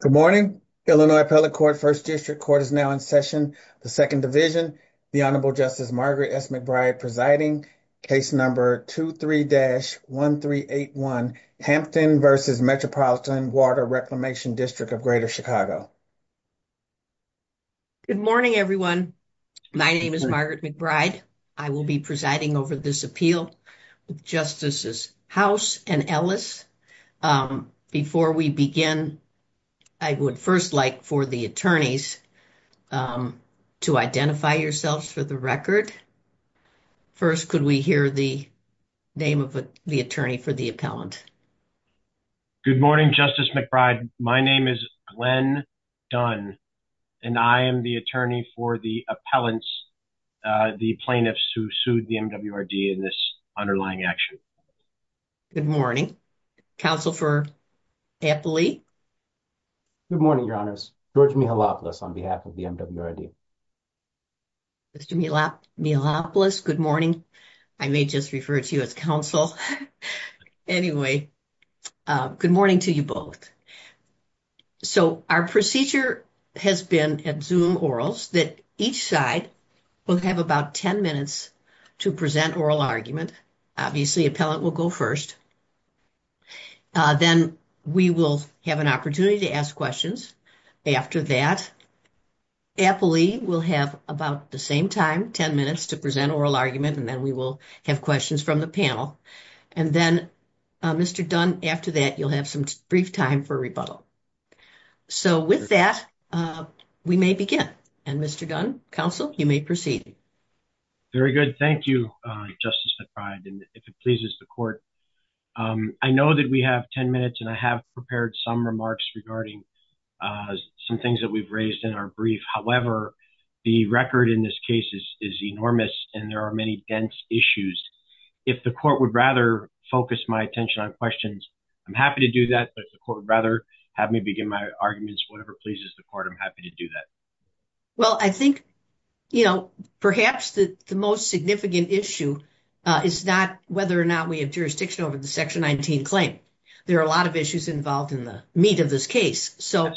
Good morning, Illinois Appellate Court, 1st District Court is now in session, the 2nd Division, the Honorable Justice Margaret S. McBride presiding, case number 23-1381, Hampton v. Metropolitan Water Reclamation District of Greater Chicago. Good morning, everyone. My name is Margaret McBride. I will be presiding over this appeal with Justices House and Ellis. Before we begin, I would first like for the attorneys to identify yourselves for the record. First, could we hear the name of the attorney for the appellant? Good morning, Justice McBride. My name is Glenn Dunn, and I am the attorney for the appellants, the plaintiffs who sued the MWRD in this underlying action. Good morning. Counsel for Appellee? Good morning, Your Honor. George Mihalopoulos on behalf of the MWRD. Mr. Mihalopoulos, good morning. I may just refer to you as counsel. Anyway, good morning to you both. So our procedure has been at Zoom Orals that each side will have about 10 minutes to present oral argument. Obviously, appellant will go first. Then we will have an opportunity to ask questions after that. Appellee will have about the same time, 10 minutes, to present oral argument, and then we will have questions from the panel. And then, Mr. Dunn, after that, you'll have some brief time for rebuttal. So with that, we may begin. And Mr. Dunn, counsel, you may proceed. Very good. Thank you, Justice McBride, and if it pleases the court. I know that we have 10 minutes and I have prepared some remarks regarding some things that we've raised in our brief. However, the record in this case is enormous and there are many dense issues. If the court would rather focus my attention on questions, I'm happy to do that. But if the court would rather have me begin my arguments, whatever pleases the court, I'm happy to do that. Well, I think, you know, perhaps the most significant issue is that whether or not we have jurisdiction over the Section 19 claim. There are a lot of issues involved in the meat of this case. So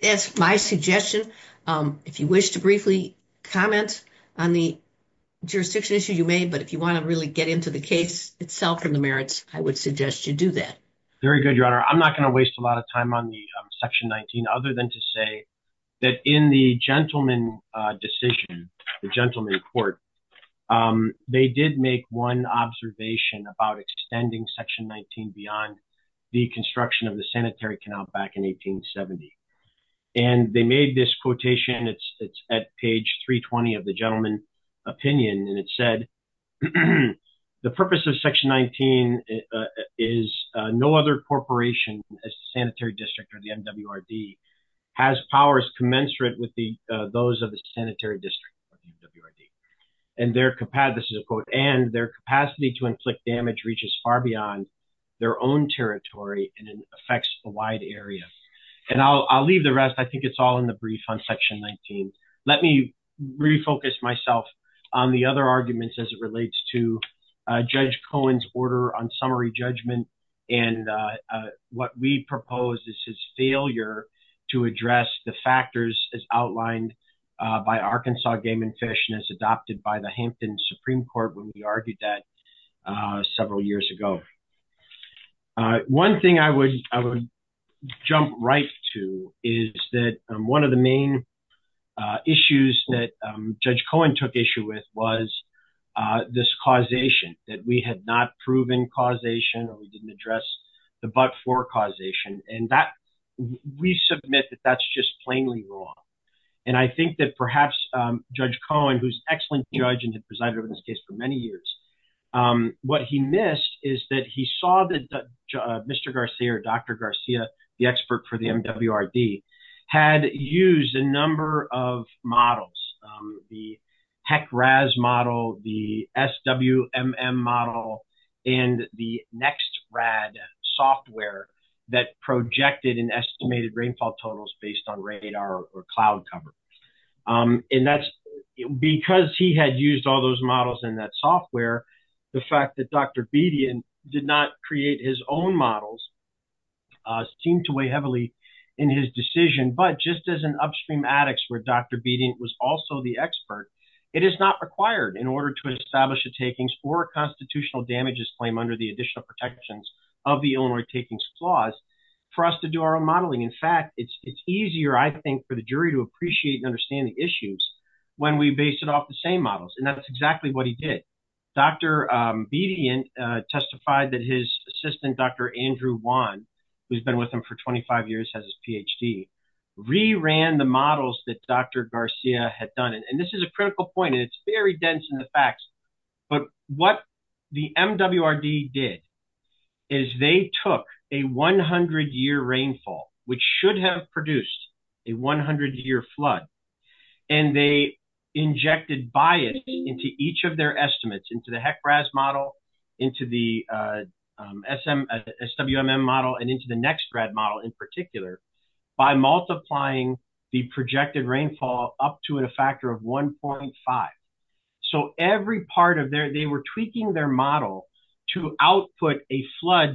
that's my suggestion. If you wish to briefly comment on the jurisdiction issue, you may. But if you want to really get into the case itself and the merits, I would suggest you do that. Very good, Your Honor. I'm not going to waste a lot of time on the Section 19 other than to say that in the gentleman decision, the gentleman court, they did make one observation about extending Section 19 beyond the construction of the sanitary canal back in 1870. And they made this quotation. It's at page 320 of the gentleman opinion. And it said the purpose of Section 19 is no other corporation, a sanitary district or the MWRD, has powers commensurate with those of the sanitary district. And their capacity to inflict damage reaches far beyond their own territory and affects a wide area. And I'll leave the rest. I think it's all in the brief on Section 19. Let me refocus myself on the other arguments as it relates to Judge Cohen's order on summary judgment. And what we propose is his failure to address the factors as outlined by Arkansas Game and Fish and as adopted by the Hampton Supreme Court when we argued that several years ago. One thing I would jump right to is that one of the main issues that Judge Cohen took issue with was this causation, that we had not proven causation or we didn't address the but-for causation. And we submit that that's just plainly wrong. And I think that perhaps Judge Cohen, who's an excellent judge and has presided over this case for many years, what he missed is that he saw that Mr. Garcia or Dr. Garcia, the expert for the MWRD, had used a number of models. The HEC-RAS model, the SWMM model, and the NEXT-RAD software that projected and estimated rainfall totals based on radar or cloud cover. And that's because he had used all those models in that software, the fact that Dr. Bedian did not create his own models seemed to weigh heavily in his decision. But just as an upstream addicts where Dr. Bedian was also the expert, it is not required in order to establish a takings or a constitutional damages claim under the additional protections of the Illinois takings clause for us to do our own modeling. In fact, it's easier, I think, for the jury to appreciate and understand the issues when we base it off the same models. And that's exactly what he did. Dr. Bedian testified that his assistant, Dr. Andrew Wan, who's been with him for 25 years, has his PhD, re-ran the models that Dr. Garcia had done. And this is a critical point. It's very dense in the facts. But what the MWRD did is they took a 100-year rainfall, which should have produced a 100-year flood, and they injected bias into each of their estimates, into the HEC-RAS model, into the SWMM model, and into the NEXT-RAD model in particular, by multiplying the projected rainfall up to a factor of 1.5. So every part of their – they were tweaking their model to output a flood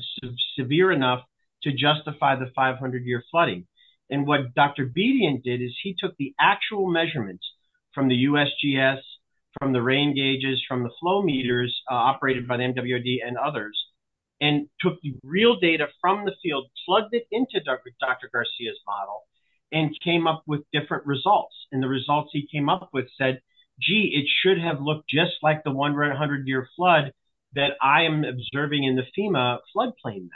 severe enough to justify the 500-year flooding. And what Dr. Bedian did is he took the actual measurements from the USGS, from the rain gauges, from the flow meters operated by the MWRD and others, and took the real data from the field, plugged it into Dr. Garcia's model, and came up with different results. And the results he came up with said, gee, it should have looked just like the 100-year flood that I am observing in the FEMA floodplain.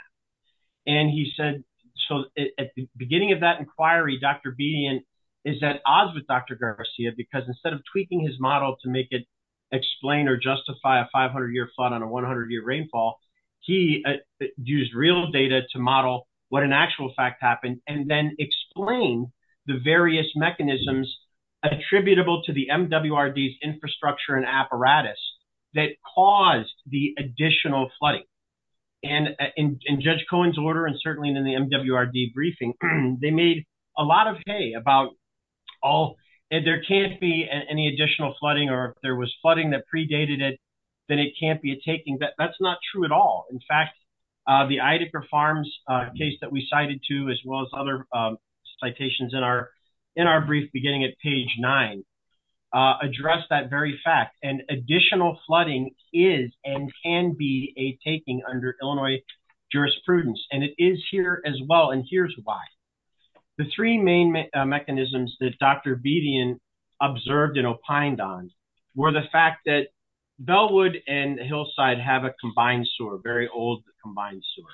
And he said – so at the beginning of that inquiry, Dr. Bedian is at odds with Dr. Garcia because instead of tweaking his model to make it explain or justify a 500-year flood on a 100-year rainfall, he used real data to model what an actual fact happened and then explain the various mechanisms attributable to the MWRD's infrastructure and apparatus that caused the additional flooding. And in Judge Cohen's order and certainly in the MWRD briefing, they made a lot of hay about all – there can't be any additional flooding or if there was flooding that predated it, then it can't be a taking. And it is here as well, and here's why. The three main mechanisms that Dr. Bedian observed and opined on were the fact that Bellwood and Hillside have a combined sewer, very old combined sewer.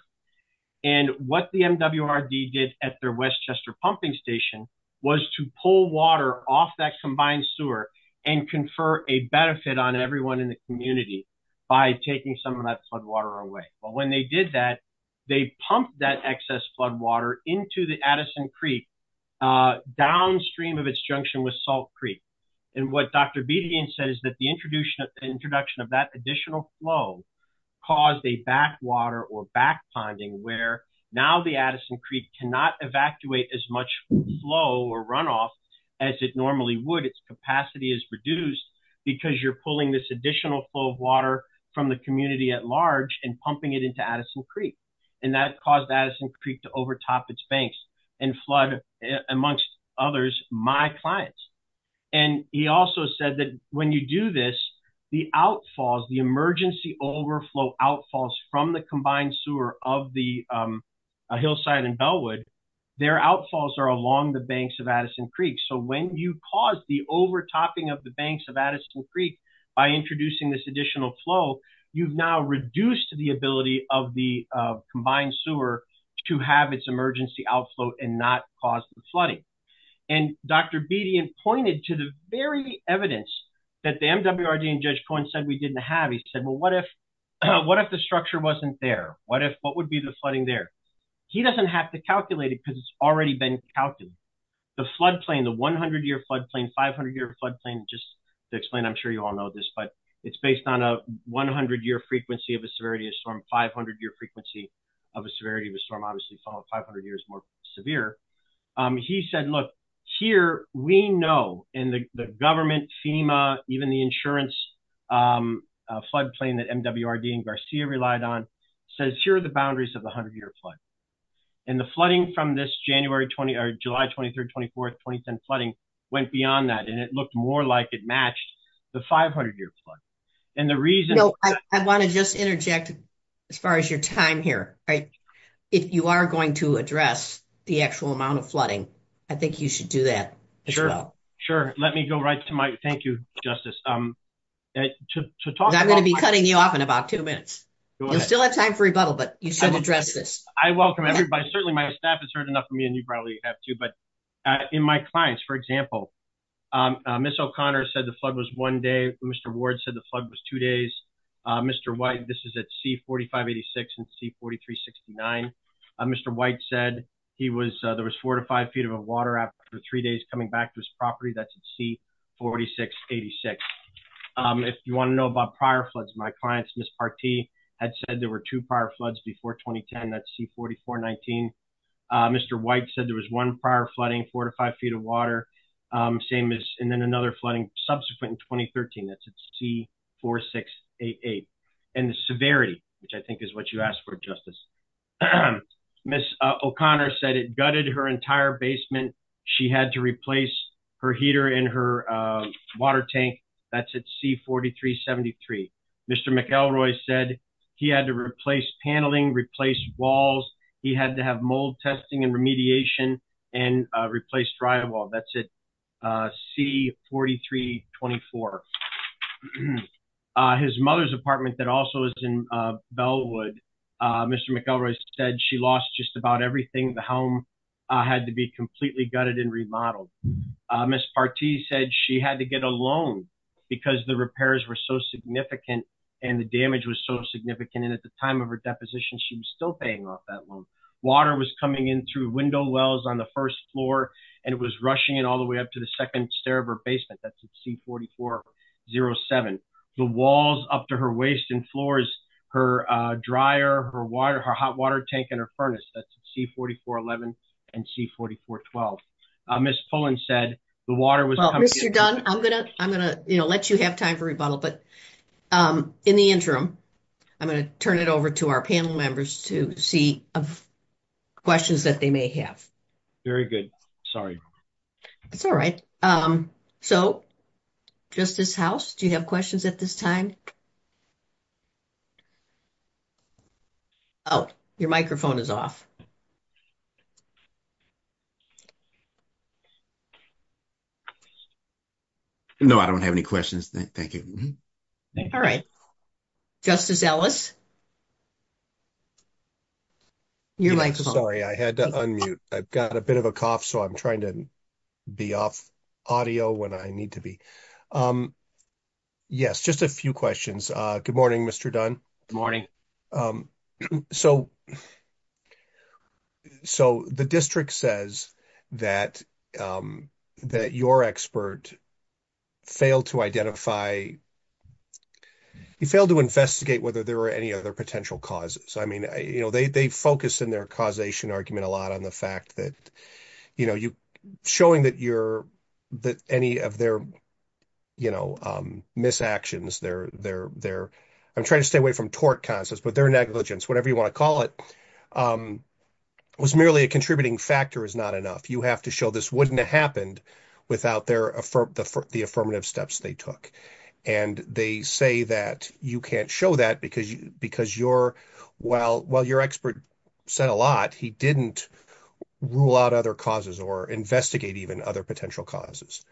And what the MWRD did at their Westchester pumping station was to pull water off that combined sewer and confer a benefit on everyone in the community by taking some of that flood water away. But when they did that, they pumped that excess flood water into the Addison Creek downstream of its junction with Salt Creek. And what Dr. Bedian said is that the introduction of that additional flow caused a backwater or backponding where now the Addison Creek cannot evacuate as much flow or runoff as it normally would. Because you're pulling this additional flow of water from the community at large and pumping it into Addison Creek. And that caused Addison Creek to overtop its banks and flood, amongst others, my clients. And he also said that when you do this, the outfalls, the emergency overflow outfalls from the combined sewer of the Hillside and Bellwood, their outfalls are along the banks of Addison Creek. So when you cause the overtopping of the banks of Addison Creek by introducing this additional flow, you've now reduced the ability of the combined sewer to have its emergency outflow and not cause the flooding. And Dr. Bedian pointed to the very evidence that the MWRD and Judge Cohen said we didn't have. He said, well, what if the structure wasn't there? What would be the flooding there? He doesn't have to calculate it because it's already been calculated. The floodplain, the 100-year floodplain, 500-year floodplain, just to explain, I'm sure you all know this, but it's based on a 100-year frequency of a severity of storm, 500-year frequency of a severity of a storm. Obviously, 500 years more severe. He said, look, here we know in the government, FEMA, even the insurance floodplain that MWRD and Garcia relied on says here are the boundaries of the 100-year flood. And the flooding from this July 23rd, 24th, 2010 flooding went beyond that. And it looked more like it matched the 500-year flood. And the reason... I want to just interject as far as your time here. If you are going to address the actual amount of flooding, I think you should do that as well. Sure. Let me go right to my... Thank you, Justice. I'm going to be cutting you off in about two minutes. You still have time for rebuttal, but you should address this. I welcome everybody. Certainly, my staff has heard enough from you, and you probably have too. But in my clients, for example, Ms. O'Connor said the flood was one day. Mr. Ward said the flood was two days. Mr. White, this is at C4586 and C4369. Mr. White said there was four to five feet of water after three days coming back to his property. That's at C4686. If you want to know about prior floods, my clients, Ms. Partee, had said there were two prior floods before 2010. That's C4419. Mr. White said there was one prior flooding, four to five feet of water. And then another flooding subsequent in 2013. That's at C4688. And the severity, which I think is what you asked for, Justice. Ms. O'Connor said it gutted her entire basement. She had to replace her heater in her water tank. That's at C4373. Mr. McElroy said he had to replace paneling, replace walls. He had to have mold testing and remediation and replace drywall. That's at C4324. His mother's apartment that also is in Bellwood, Mr. McElroy said she lost just about everything. The home had to be completely gutted and remodeled. Ms. Partee said she had to get a loan because the repairs were so significant and the damage was so significant. And at the time of her deposition, she was still paying off that loan. Water was coming in through window wells on the first floor and it was rushing in all the way up to the second stair of her basement. That's at C4407. The walls up to her waist and floors, her dryer, her water, her hot water tank and her furnace. That's at C4411 and C4412. I'm going to let you have time for rebuttal, but in the interim, I'm going to turn it over to our panel members to see questions that they may have. Very good. Sorry. It's all right. So, Justice House, do you have questions at this time? Oh, your microphone is off. No, I don't have any questions. Thank you. All right. Justice Ellis. Sorry, I had to unmute. I've got a bit of a cough, so I'm trying to be off audio when I need to be. Yes, just a few questions. Good morning, Mr. Dunn. Good morning. So, the district says that your expert failed to identify, he failed to investigate whether there were any other potential causes. I mean, they focus in their causation argument a lot on the fact that showing that any of their misactions, I'm trying to stay away from tort causes, but their negligence, whatever you want to call it, was merely a contributing factor is not enough. You have to show this wouldn't have happened without the affirmative steps they took. And they say that you can't show that because while your expert said a lot, he didn't rule out other causes or investigate even other potential causes.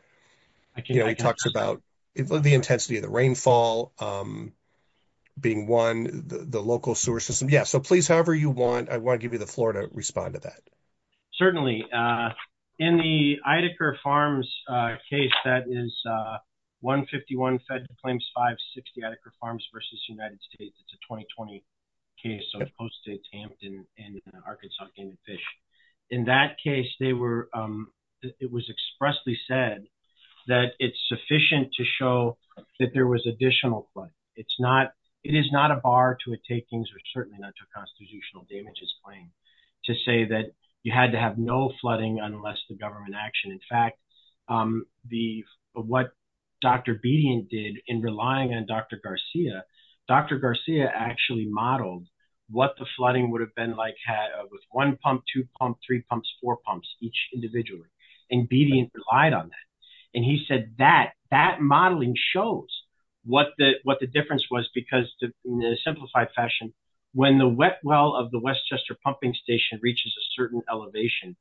He talks about the intensity of the rainfall being one, the local sewer system. Yes, so please, however you want, I want to give you the floor to respond to that. Certainly. In the Idacare Farms case, that is 151 Federal Claims, 560 Idacare Farms v. United States, it's a 2020 case, so it's posted in Arkansas. In that case, they were, it was expressly said that it's sufficient to show that there was additional flood. It is not a bar to a takings or certainly not to a constitutional damages claim to say that you had to have no flooding unless the government actioned. In fact, what Dr. Bedian did in relying on Dr. Garcia, Dr. Garcia actually modeled what the flooding would have been like with one pump, two pumps, three pumps, four pumps each individually. And Bedian relied on that. And he said that, that modeling shows what the difference was because in a simplified fashion, when the wet well of the Westchester Pumping Station reaches a certain elevation,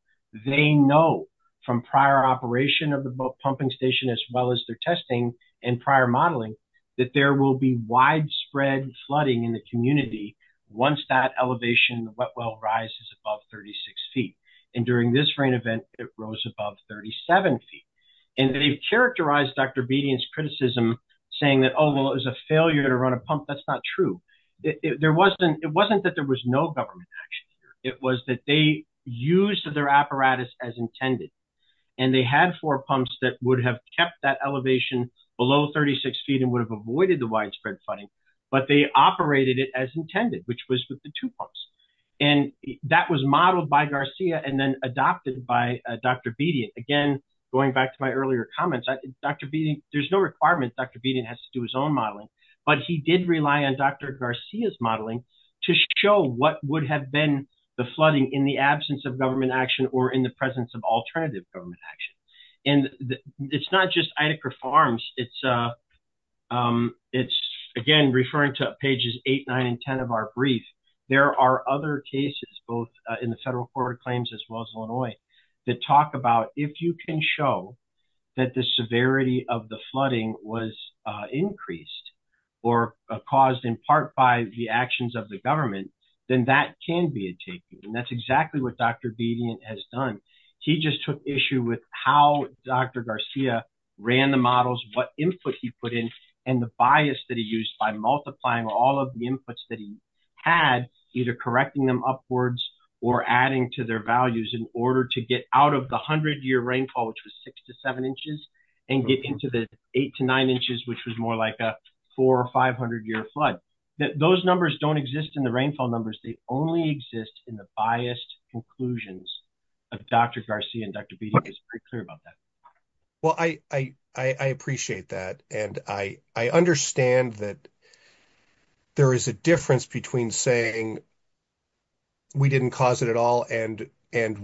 they know from prior operation of the pumping station as well as their testing and prior modeling that there will be widespread flooding in the community once that elevation wet well rises above 36 feet. And during this rain event, it rose above 37 feet. And they've characterized Dr. Bedian's criticism saying that, oh, well, it was a failure to run a pump. That's not true. There wasn't, it wasn't that there was no government action. It was that they used their apparatus as intended. And they had four pumps that would have kept that elevation below 36 feet and would have avoided the widespread flooding, but they operated it as intended, which was with the two pumps. And that was modeled by Garcia and then adopted by Dr. Bedian. Again, going back to my earlier comments, Dr. Bedian, there's no requirement Dr. Bedian has to do his own modeling. But he did rely on Dr. Garcia's modeling to show what would have been the flooding in the absence of government action or in the presence of alternative government action. And it's not just Idacra Farms. It's, again, referring to pages 8, 9, and 10 of our brief. There are other cases, both in the federal court of claims as well as Illinois, that talk about if you can show that the severity of the flooding was increased or caused in part by the actions of the government, then that can be a takeaway. And that's exactly what Dr. Bedian has done. He just took issue with how Dr. Garcia ran the models, what input he put in, and the bias that he used by multiplying all of the inputs that he had, either correcting them upwards or adding to their values in order to get out of the 100-year rainfall, which was 6 to 7 inches, and get into the 8 to 9 inches, which was more like a 400 or 500-year flood. Those numbers don't exist in the rainfall numbers. They only exist in the biased conclusions of Dr. Garcia and Dr. Bedian. He's pretty clear about that. Well, I appreciate that. And I understand that there is a difference between saying we didn't cause it at all and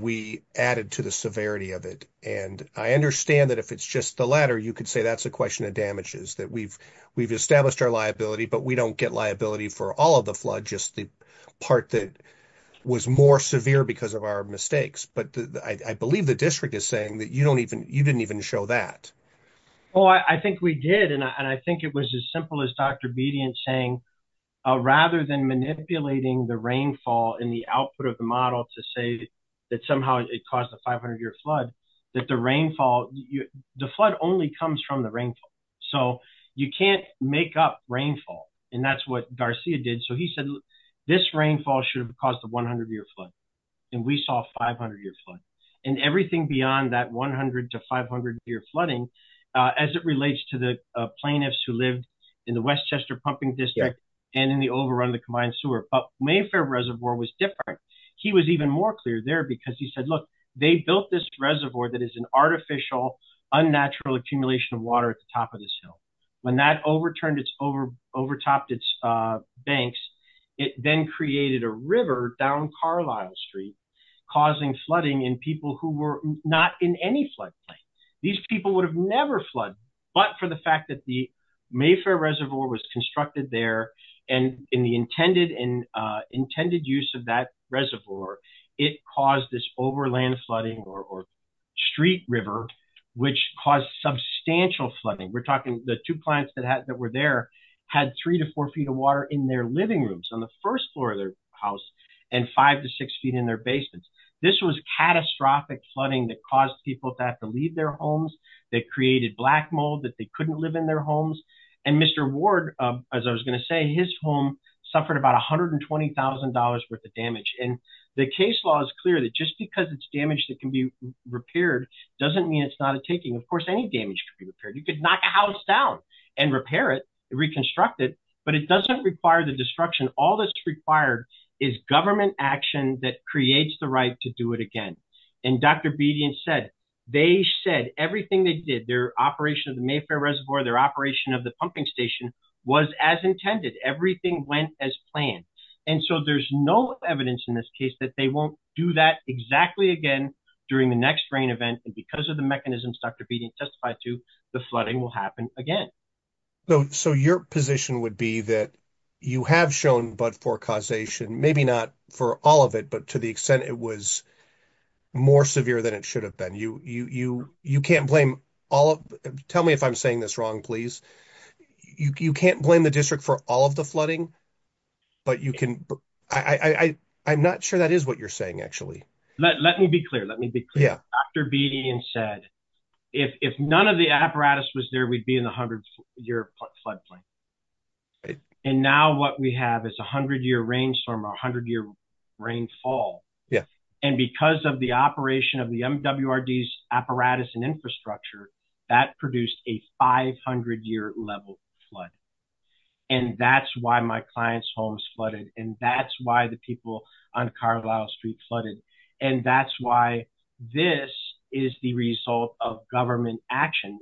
we added to the severity of it. And I understand that if it's just the latter, you could say that's a question of damages, that we've established our liability, but we don't get liability for all of the flood, just the part that was more severe because of our mistakes. But I believe the district is saying that you didn't even show that. Oh, I think we did. And I think it was as simple as Dr. Bedian saying, rather than manipulating the rainfall in the output of the model to say that somehow it caused a 500-year flood, that the rainfall, the flood only comes from the rainfall. So, you can't make up rainfall. And that's what Garcia did. So, he said this rainfall should have caused a 100-year flood. And we saw a 500-year flood. And everything beyond that 100 to 500-year flooding, as it relates to the plaintiffs who lived in the Westchester Pumping District and in the overrun of the combined sewer. But Mayfair Reservoir was different. He was even more clear there because he said, look, they built this reservoir that is an artificial, unnatural accumulation of water at the top of this hill. When that overtopped its banks, it then created a river down Carlisle Street, causing flooding in people who were not in any floodplain. These people would have never flooded. But for the fact that the Mayfair Reservoir was constructed there, and in the intended use of that reservoir, it caused this overland flooding or street river, which caused substantial flooding. We're talking the two clients that were there had three to four feet of water in their living rooms on the first floor of their house and five to six feet in their basements. This was catastrophic flooding that caused people to have to leave their homes, that created black mold, that they couldn't live in their homes. And Mr. Ward, as I was going to say, his home suffered about $120,000 worth of damage. And the case law is clear that just because it's damage that can be repaired doesn't mean it's not a taking. Of course, any damage can be repaired. You could knock a house down and repair it, reconstruct it, but it doesn't require the destruction. All that's required is government action that creates the right to do it again. And Dr. Bedian said, they said everything they did, their operation of the Mayfair Reservoir, their operation of the pumping station was as intended. Everything went as planned. And so there's no evidence in this case that they won't do that exactly again during the next rain event. And because of the mechanisms Dr. Bedian testified to, the flooding will happen again. So your position would be that you have shown, but for causation, maybe not for all of it, but to the extent it was more severe than it should have been. You can't blame all of, tell me if I'm saying this wrong, please. You can't blame the district for all of the flooding. But you can, I'm not sure that is what you're saying, actually. Let me be clear. Let me be clear. Dr. Bedian said, if none of the apparatus was there, we'd be in a hundred year floodplain. And now what we have is a hundred year rainstorm or a hundred year rainfall. And because of the operation of the MWRD's apparatus and infrastructure, that produced a 500 year level flood. And that's why my client's homes flooded. And that's why the people on Carlisle Street flooded. And that's why this is the result of government action.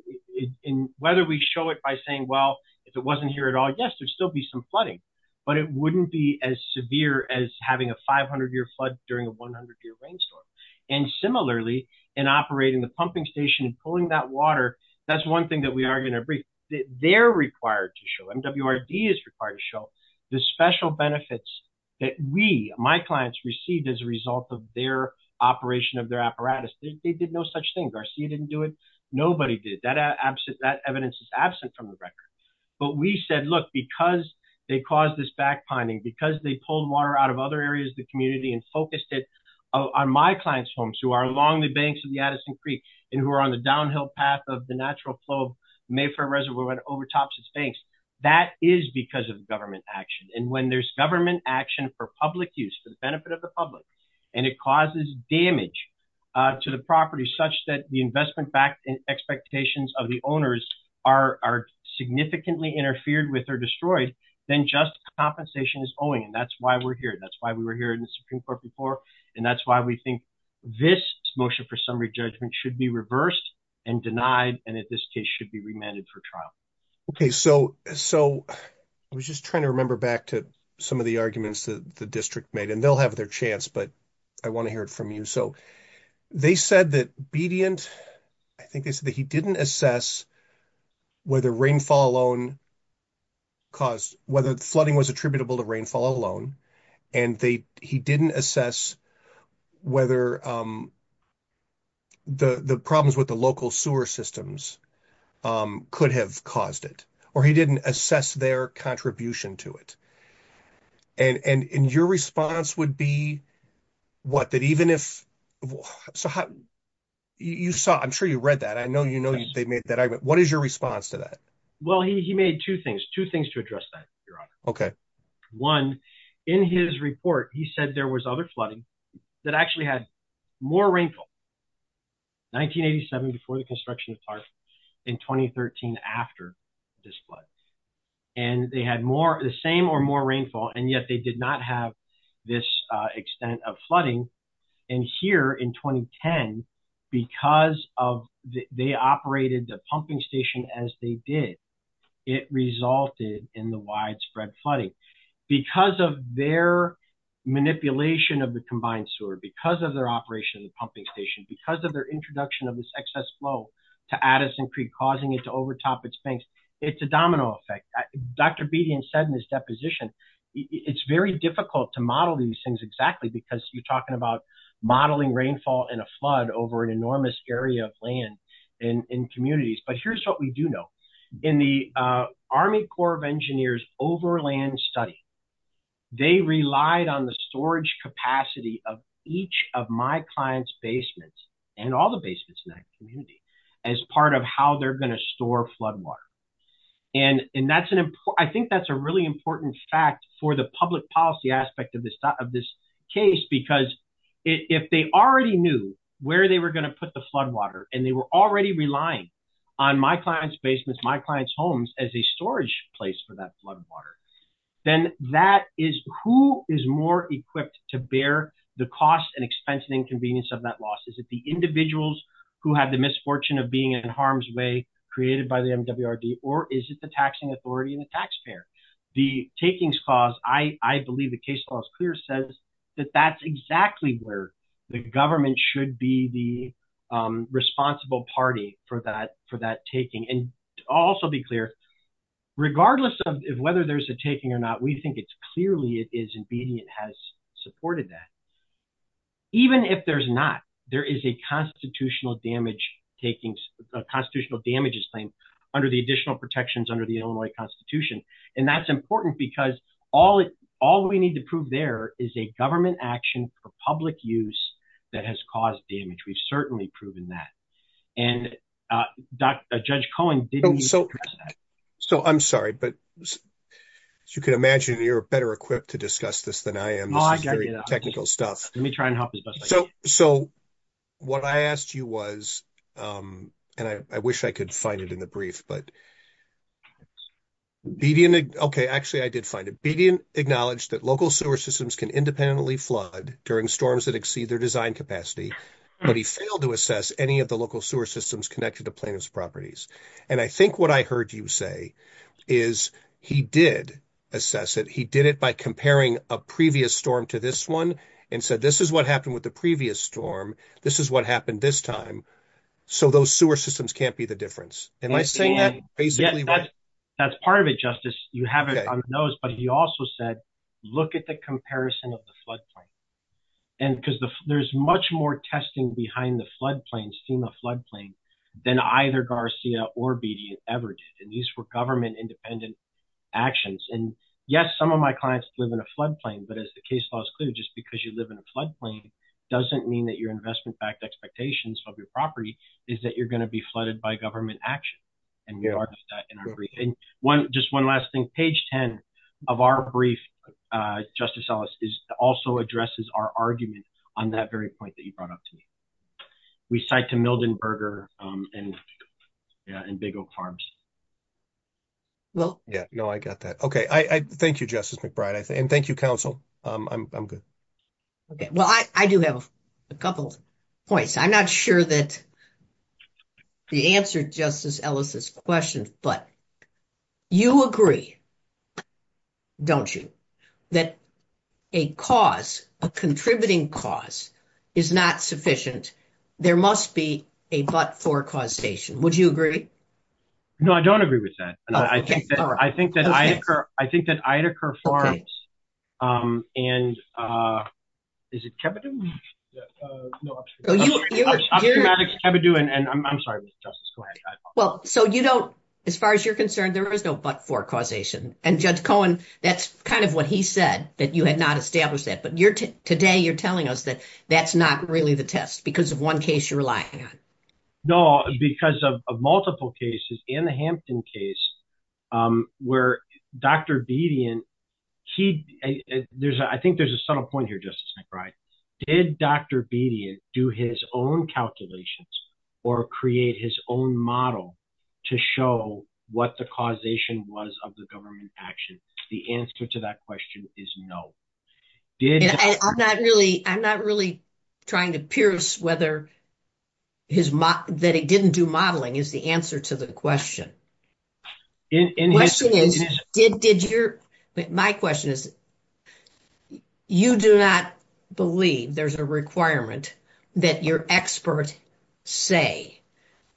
Whether we show it by saying, well, if it wasn't here at all, yes, there'd still be some flooding, but it wouldn't be as severe as having a 500 year flood during a 100 year rainstorm. And similarly, in operating the pumping station and pulling that water, that's one thing that we are going to bring. They're required to show, MWRD is required to show, the special benefits that we, my clients, received as a result of their operation of their apparatus. They did no such thing. Garcia didn't do it. Nobody did. That evidence is absent from the record. But we said, look, because they caused this back pining, because they pulled water out of other areas of the community and focused it on my client's homes, who are along the banks of the Addison Creek and who are on the downhill path of the natural flow Mayfair Reservoir and over Tops and Stakes, that is because of government action. And when there's government action for public use, for the benefit of the public, and it causes damage to the property such that the investment expectations of the owners are significantly interfered with or destroyed, then just compensation is owing. And that's why we're here. That's why we were here in the Supreme Court before. And that's why we think this motion for summary judgment should be reversed and denied and, in this case, should be remanded for trial. Okay, so I was just trying to remember back to some of the arguments that the district made, and they'll have their chance, but I want to hear it from you. So they said that Bedient, I think they said that he didn't assess whether rainfall alone caused, whether flooding was attributable to rainfall alone. And he didn't assess whether the problems with the local sewer systems could have caused it, or he didn't assess their contribution to it. And your response would be, what, that even if, so you saw, I'm sure you read that. I know you know they made that argument. What is your response to that? Well, he made two things, two things to address that, Your Honor. Okay. One, in his report, he said there was other flooding that actually had more rainfall. 1987 before the construction of parks, and 2013 after this flood. And they had more, the same or more rainfall, and yet they did not have this extent of flooding. And here in 2010, because they operated the pumping station as they did, it resulted in the widespread flooding. Because of their manipulation of the combined sewer, because of their operation of the pumping station, because of their introduction of this excess flow to Addison Creek, causing it to overtop its banks, it's a domino effect. Dr. Bedian said in his deposition, it's very difficult to model these things exactly, because you're talking about modeling rainfall in a flood over an enormous area of land in communities. But here's what we do know. In the Army Corps of Engineers overland study, they relied on the storage capacity of each of my clients' basements, and all the basements in that community, as part of how they're going to store flood water. And I think that's a really important fact for the public policy aspect of this case, because if they already knew where they were going to put the flood water, and they were already relying on my clients' basements, my clients' homes, as a storage place for that flood water, then that is, who is more equipped to bear the cost and expense and inconvenience of that loss? Is it the individuals who have the misfortune of being in harm's way, created by the MWRD, or is it the taxing authority and the taxpayer? The takings clause, I believe the case law is clear, says that that's exactly where the government should be the responsible party for that taking. And I'll also be clear, regardless of whether there's a taking or not, we think it's clearly it is, and BDN has supported that. Even if there's not, there is a constitutional damages claim under the additional protections under the Illinois Constitution, and that's important because all we need to prove there is a government action for public use that has caused damage. We've certainly proven that, and Judge Cohen didn't address that. So, I'm sorry, but as you can imagine, you're better equipped to discuss this than I am. Let me try and help as best I can. So, what I asked you was, and I wish I could find it in the brief, but BDN, okay, actually, I did find it. BDN acknowledged that local sewer systems can independently flood during storms that exceed their design capacity, but he failed to assess any of the local sewer systems connected to plaintiff's properties. And I think what I heard you say is he did assess it. He did it by comparing a previous storm to this one and said, this is what happened with the previous storm. This is what happened this time. So, those sewer systems can't be the difference. That's part of it, Justice. You have it on the nose, but he also said, look at the comparison of the floodplain. And because there's much more testing behind the floodplains, FEMA floodplain, than either Garcia or BDN ever did. And these were government independent actions. And, yes, some of my clients live in a floodplain, but as the case law is clear, just because you live in a floodplain doesn't mean that your investment backed expectations of your property is that you're going to be flooded by government action. And just one last thing, page 10 of our brief, Justice Ellis, also addresses our argument on that very point that you brought up to me. We cite to Mildenberger and Big Oak Farms. Yeah, I got that. Okay. Thank you, Justice McBride. And thank you, counsel. I'm good. Okay. Well, I do have a couple points. I'm not sure that the answer to Justice Ellis' question, but you agree, don't you, that a cause, a contributing cause, is not sufficient? There must be a but-for causation. Would you agree? No, I don't agree with that. I think that Idacare Farms and is it Kebidoo? No, I'm sorry, Justice Cohen. Well, so you don't, as far as you're concerned, there is no but-for causation. And, Judge Cohen, that's kind of what he said, that you had not established that. But today you're telling us that that's not really the test because of one case you're relying on. No, because of multiple cases in the Hampton case where Dr. Bedian, I think there's a subtle point here, Justice McBride. Did Dr. Bedian do his own calculations or create his own model to show what the causation was of the government action? The answer to that question is no. I'm not really trying to pierce whether that he didn't do modeling is the answer to the question. My question is, you do not believe there's a requirement that your experts say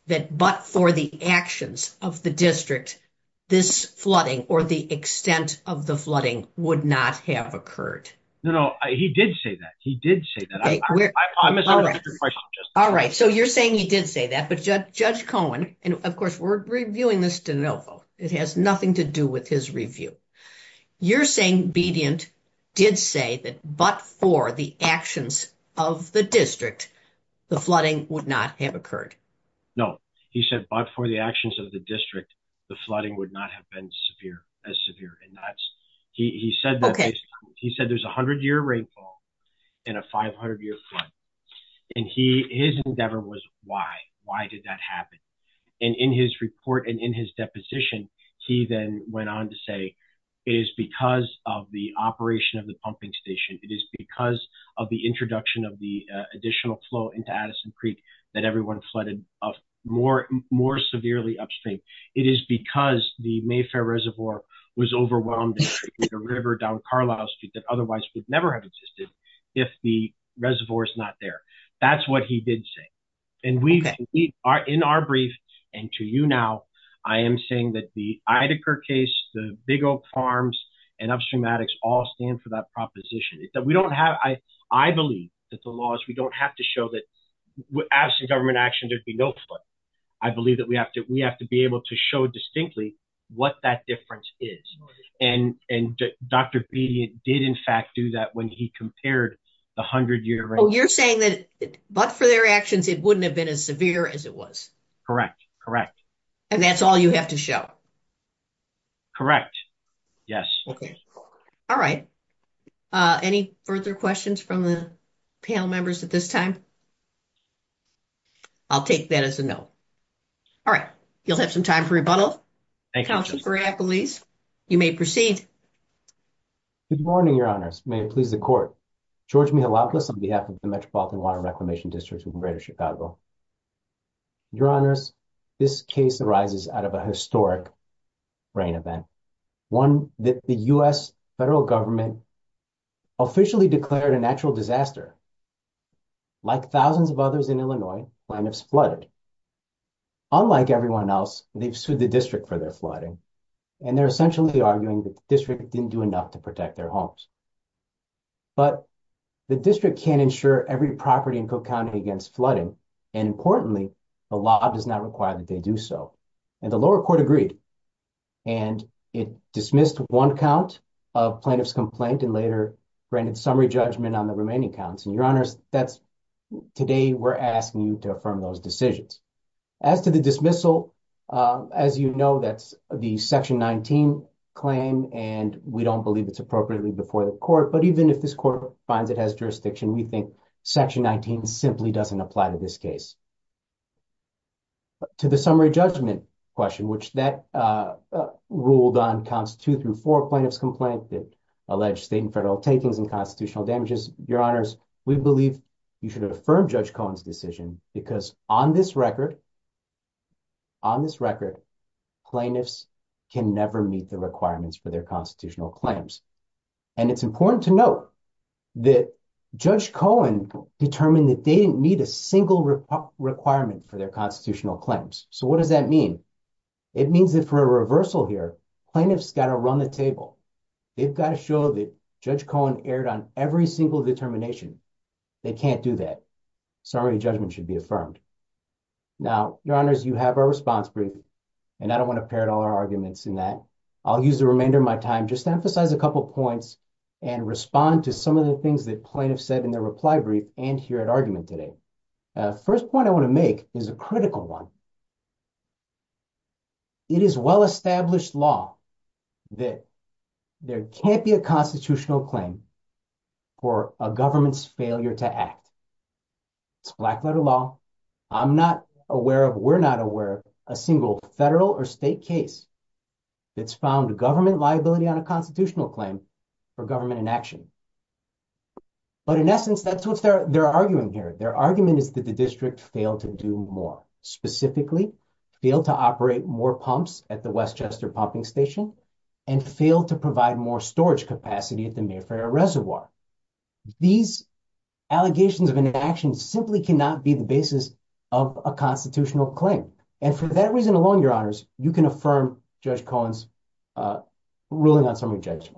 that but for the actions of the district, this flooding or the extent of the flooding would not have occurred. No, he did say that. He did say that. All right. So you're saying he did say that. But Judge Cohen, and of course, we're reviewing this de novo. It has nothing to do with his review. You're saying Bedian did say that but for the actions of the district, the flooding would not have occurred. No, he said, but for the actions of the district, the flooding would not have been severe as severe. And that's he said. He said there's 100 year rainfall in a 500 year flood. And he is endeavor was why. Why did that happen? And in his report and in his deposition, he then went on to say is because of the operation of the pumping station. It is because of the introduction of the additional flow into Addison Creek that everyone flooded of more more severely upstream. It is because the Mayfair Reservoir was overwhelmed with a river down Carlisle Street that otherwise would never have existed if the reservoir is not there. That's what he did say. And we are in our brief. And to you now, I am saying that the Idacare case, the big old farms and upstream addicts all stand for that proposition that we don't have. I believe that the laws we don't have to show that we're asking government action to be no foot. I believe that we have to we have to be able to show distinctly what that difference is. And Dr. Bedian did, in fact, do that when he compared the 100 year. You're saying that, but for their actions, it wouldn't have been as severe as it was. Correct. Correct. And that's all you have to show. Correct. Yes. Okay. All right. Any further questions from the panel members at this time? I'll take that as a no. All right. You'll have some time for rebuttal. I believe you may proceed. Good morning, your honors may please the court George me a lot on behalf of the Metropolitan Water Reclamation District in greater Chicago. Your honors this case arises out of a historic. Brain event 1 that the US federal government. Officially declared a natural disaster, like thousands of others in Illinois. When it's flooded, unlike everyone else, they've sued the district for their flooding and they're essentially arguing the district didn't do enough to protect their homes. But the district can't ensure every property and go county against flooding. And importantly, the law does not require that they do so. And the lower court agreed, and it dismissed 1 count of plaintiff's complaint and later. Brandon summary judgment on the remaining counts and your honors that's today. We're asking you to affirm those decisions. As to the dismissal, as, you know, that's the section 19 claim and we don't believe it's appropriately before the court. But even if this court finds it has jurisdiction, we think section 19 simply doesn't apply to this case. To the summary judgment question, which that ruled on constitute through 4 plaintiff's complaint that alleged state and federal takings and constitutional damages your honors. We believe you should have a firm judge Cohen's decision because on this record. On this record, plainness can never meet the requirements for their constitutional claims. And it's important to note that judge Cohen determined that they need a single requirement for their constitutional claims. So, what does that mean? It means that for a reversal here, plaintiff's got to run the table. They've got to show that judge Cohen aired on every single determination. They can't do that. Sorry, judgment should be affirmed. Now, your honors, you have our response for you. And I don't want to pair it all our arguments in that. I'll use the remainder of my time. Just emphasize a couple points. And respond to some of the things that plaintiff said in their reply brief and here at argument today. First point I want to make is a critical one. It is well established law. That there can't be a constitutional claim. For a government's failure to act. Black letter law. I'm not aware of we're not aware of a single federal or state case. It's found government liability on a constitutional claim. For government inaction, but in essence, that's what they're arguing here. Their argument is that the district failed to do more specifically. Feel to operate more pumps at the Westchester pumping station. And fail to provide more storage capacity at the reservoir. These allegations of an action simply cannot be the basis of a constitutional claim. And for that reason alone, your honors, you can affirm judge Collins. Ruling on some objection.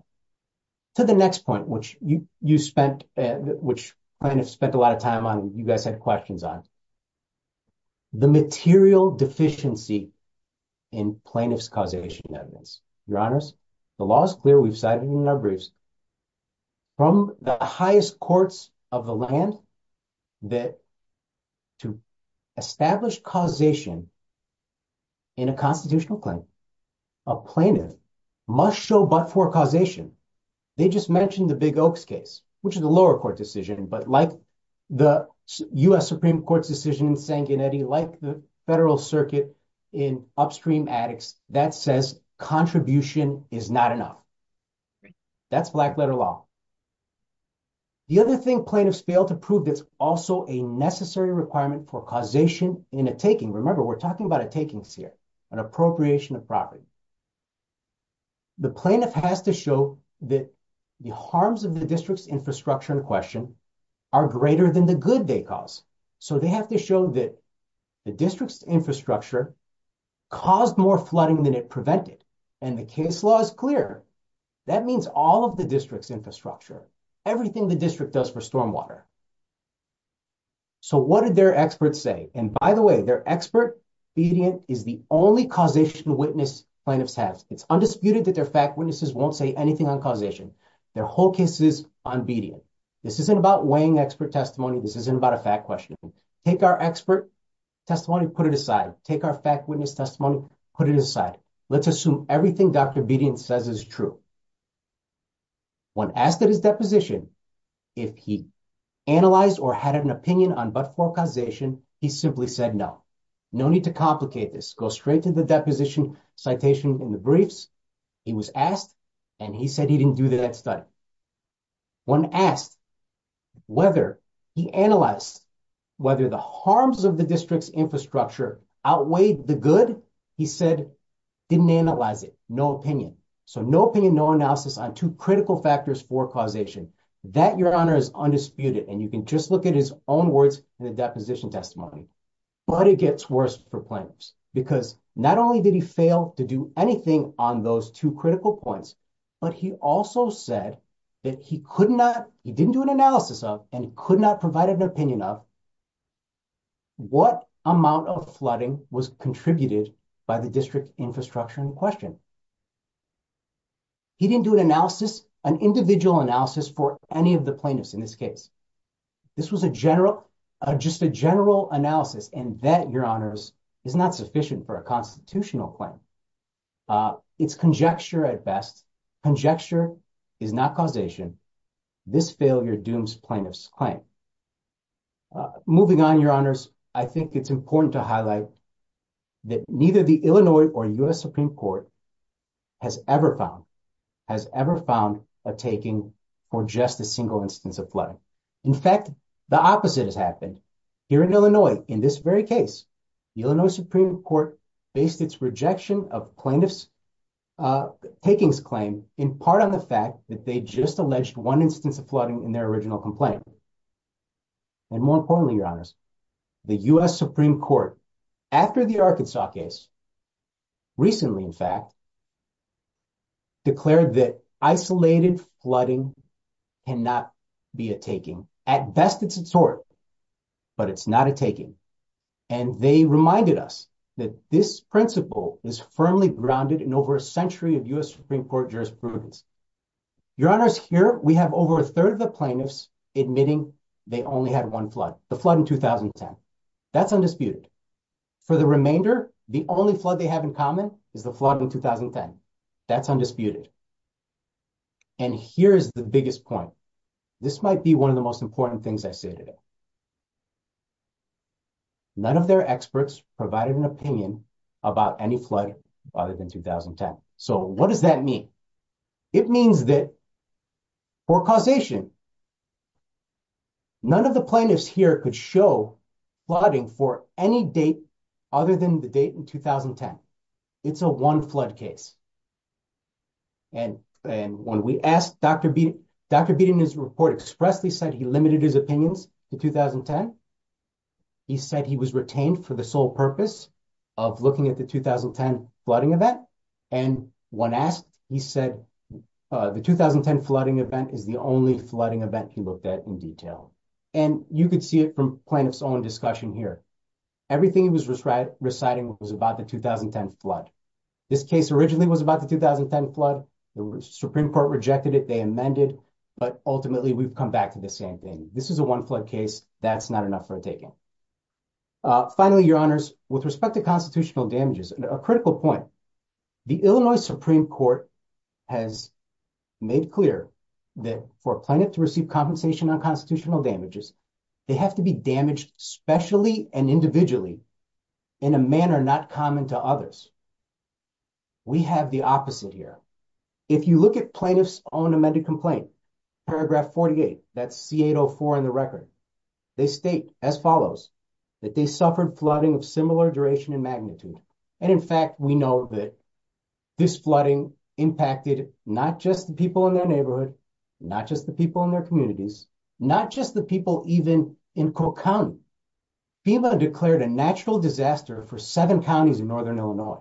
To the next point, which you spent, which kind of spent a lot of time on you guys had questions on. The material deficiency. In plaintiff's causation evidence, your honors, the law is clear. We've cited in our briefs. From the highest courts of the land. That to establish causation. In a constitutional claim. A plaintiff must show, but for causation. They just mentioned the big case, which is a lower court decision, but like. The US Supreme Court's decision, like the federal circuit. In upstream addicts that says contribution is not enough. That's black letter law. The other thing plaintiffs fail to prove is also a necessary requirement for causation in a taking. Remember, we're talking about a taking here. An appropriation of property. The plaintiff has to show that. The harms of the district's infrastructure in question. Are greater than the good they cause, so they have to show that. The district's infrastructure caused more flooding than it prevented. And the case law is clear. That means all of the district's infrastructure. Everything the district does for stormwater. So, what did their experts say? And by the way, they're expert. Is the only causation witness. It's undisputed that their fact witnesses won't say anything on causation. Their whole case is on video. This isn't about weighing expert testimony. This isn't about a fact question. Take our expert testimony, put it aside. Take our fact witness testimony. Put it aside. Let's assume everything Dr says is true. When asked that his deposition. If he analyze or had an opinion on, but for causation, he simply said, no. No need to complicate this go straight to the deposition citation in the briefs. He was asked, and he said he didn't do that. When asked whether he analyzed. Whether the harms of the district's infrastructure outweigh the good. He said, didn't analyze it. No opinion. So, no opinion, no analysis on 2 critical factors for causation that your honor is undisputed. And you can just look at his own words in the deposition testimony. But it gets worse for planners because not only did he fail to do anything on those 2 critical points. But he also said that he could not, he didn't do an analysis of and could not provide an opinion of. What amount of flooding was contributed by the district infrastructure in question. He didn't do an analysis, an individual analysis for any of the plaintiffs in this case. This was a general, just a general analysis and that your honors is not sufficient for a constitutional claim. It's conjecture at best. Conjecture is not causation. This failure dooms plaintiffs claim. Moving on your honors, I think it's important to highlight. That neither the Illinois or US Supreme Court. Has ever found has ever found a taking for just a single instance of flood. In fact, the opposite has happened here in Illinois in this very case. The Illinois Supreme Court based its rejection of plaintiffs. Takings claim in part of the fact that they just alleged 1 instance of flooding in their original complaint. And more importantly, your honors. The US Supreme Court after the Arkansas case. Recently, in fact. Declared that isolated flooding. And not be a taking at best. It's sort. But it's not a taking and they reminded us that this principle is firmly grounded in over a century of US Supreme Court jurisprudence. Your honors here, we have over a 3rd of the plaintiffs admitting. They only had 1 flood the flood in 2010. That's undisputed for the remainder. The only flood they have in common is the flood in 2010. That's undisputed and here's the biggest point. This might be 1 of the most important things I say today. None of their experts provided an opinion about any flood other than 2010. So, what does that mean? It means that for causation. None of the plaintiffs here could show flooding for any date. Other than the date in 2010, it's a 1 flood case. And, and when we asked Dr. B, Dr. B in his report expressly said he limited his opinions to 2010. He said he was retained for the sole purpose. Of looking at the 2010 flooding event. And 1 asked, he said the 2010 flooding event is the only flooding event he looked at in detail. And you could see it from plants on discussion here. Everything he was reciting was about the 2010 flood. This case originally was about the 2010 flood. The Supreme Court rejected it, they amended, but ultimately we've come back to the same thing. This is a 1 flood case. That's not enough for a taking. Finally, your honors, with respect to constitutional damages, a critical point. The Illinois Supreme Court has made clear that for a plaintiff to receive compensation on constitutional damages. They have to be damaged specially and individually in a manner not common to others. We have the opposite here. If you look at plaintiff's own amended complaint, paragraph 48, that's C804 in the record. They state as follows, that they suffered flooding of similar duration and magnitude. And in fact, we know that this flooding impacted not just the people in their neighborhood. Not just the people in their communities. Not just the people even in Cook County. FEMA declared a natural disaster for seven counties in northern Illinois.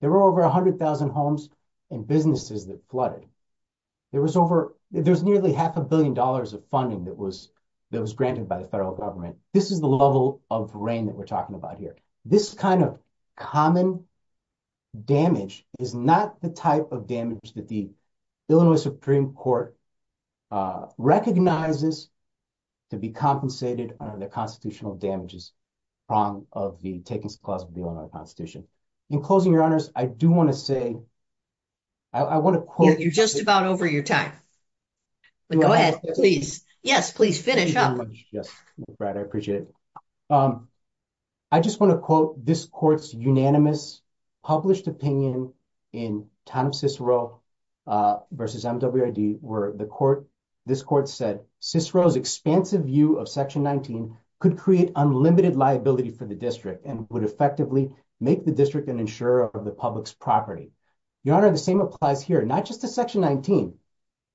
There were over 100,000 homes and businesses that flooded. There was nearly half a billion dollars of funding that was granted by the federal government. This is the level of rain that we're talking about here. This kind of common damage is not the type of damage that the Illinois Supreme Court recognizes to be compensated on the constitutional damages. In closing, your honors, I do want to say, I want to quote. You're just about over your time. Go ahead, please. Yes, please finish up. I appreciate it. I just want to quote this court's unanimous published opinion in time Cicero versus MWID. Where the court, this court said Cicero's expansive view of section 19 could create unlimited liability for the district. And would effectively make the district an insurer of the public's property. Your honor, the same applies here, not just the section 19,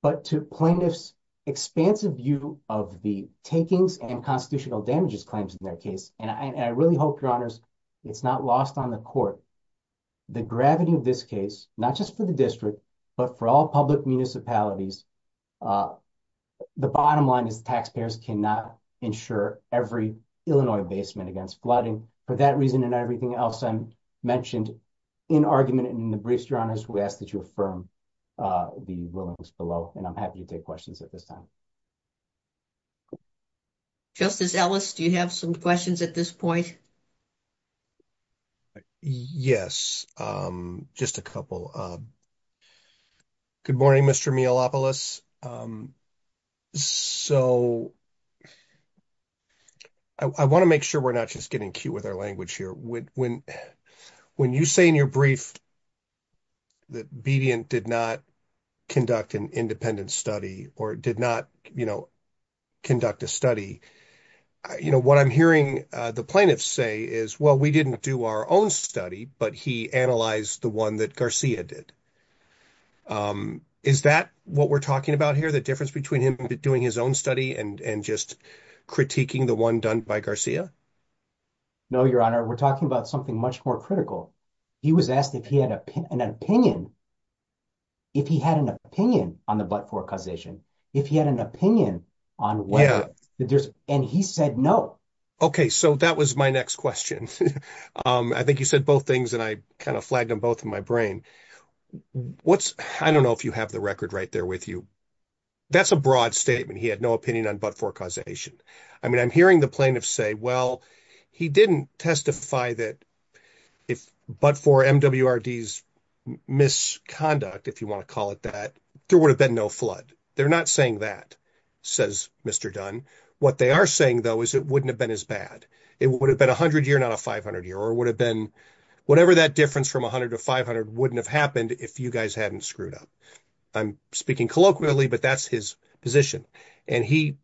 but to point this expansive view of the takings and constitutional damages claims in that case. And I really hope, your honors, it's not lost on the court. The gravity of this case, not just for the district, but for all public municipalities. The bottom line is taxpayers cannot insure every Illinois basement against flooding. For that reason and everything else I mentioned in argument in the briefs, your honors, we ask that you affirm the rulings below. And I'm happy to take questions at this time. Justice Ellis, do you have some questions at this point? Yes, just a couple. Good morning, Mr. Mealopolis. So. I want to make sure we're not just getting cute with our language here. When when you say in your brief. That did not conduct an independent study or did not, you know. Conduct a study, you know, what I'm hearing the plaintiffs say is, well, we didn't do our own study, but he analyzed the one that Garcia did. Is that what we're talking about here? The difference between him doing his own study and and just critiquing the one done by Garcia? No, your honor, we're talking about something much more critical. He was asked if he had an opinion. If he had an opinion on the but for causation, if he had an opinion on what and he said, no. Okay, so that was my next question. I think you said both things and I kind of flagged them both in my brain. What's I don't know if you have the record right there with you. That's a broad statement. He had no opinion on but for causation. I mean, I'm hearing the plaintiff say, well, he didn't testify that. If but for M.W.R.D.'s misconduct, if you want to call it that, there would have been no flood. They're not saying that, says Mr. Dunn. What they are saying, though, is it wouldn't have been as bad. It would have been a hundred year, not a 500 year or would have been whatever. That difference from 100 to 500 wouldn't have happened if you guys hadn't screwed up. I'm speaking colloquially, but that's his position. And he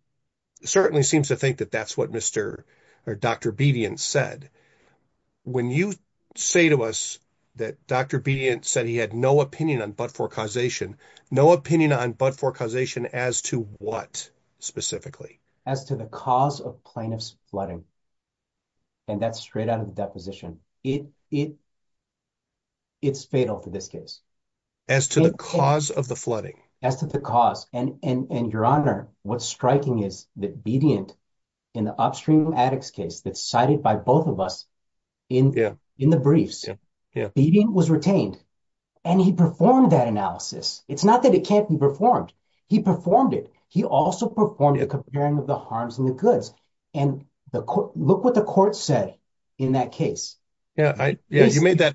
certainly seems to think that that's what Mr. or Dr. Bedian said. When you say to us that Dr. B. And said he had no opinion on but for causation, no opinion on but for causation. As to what specifically? As to the cause of plaintiff's flooding. And that's straight out of the deposition. It's fatal to this case. As to the cause of the flooding. As to the cause. And your honor, what's striking is that Bedian in the upstream addicts case that's cited by both of us in the briefs. Bedian was retained and he performed that analysis. It's not that it can't be performed. He performed it. He also performed a comparing of the harms and the goods. And look what the court said in that case. Yeah. Yeah, you made that.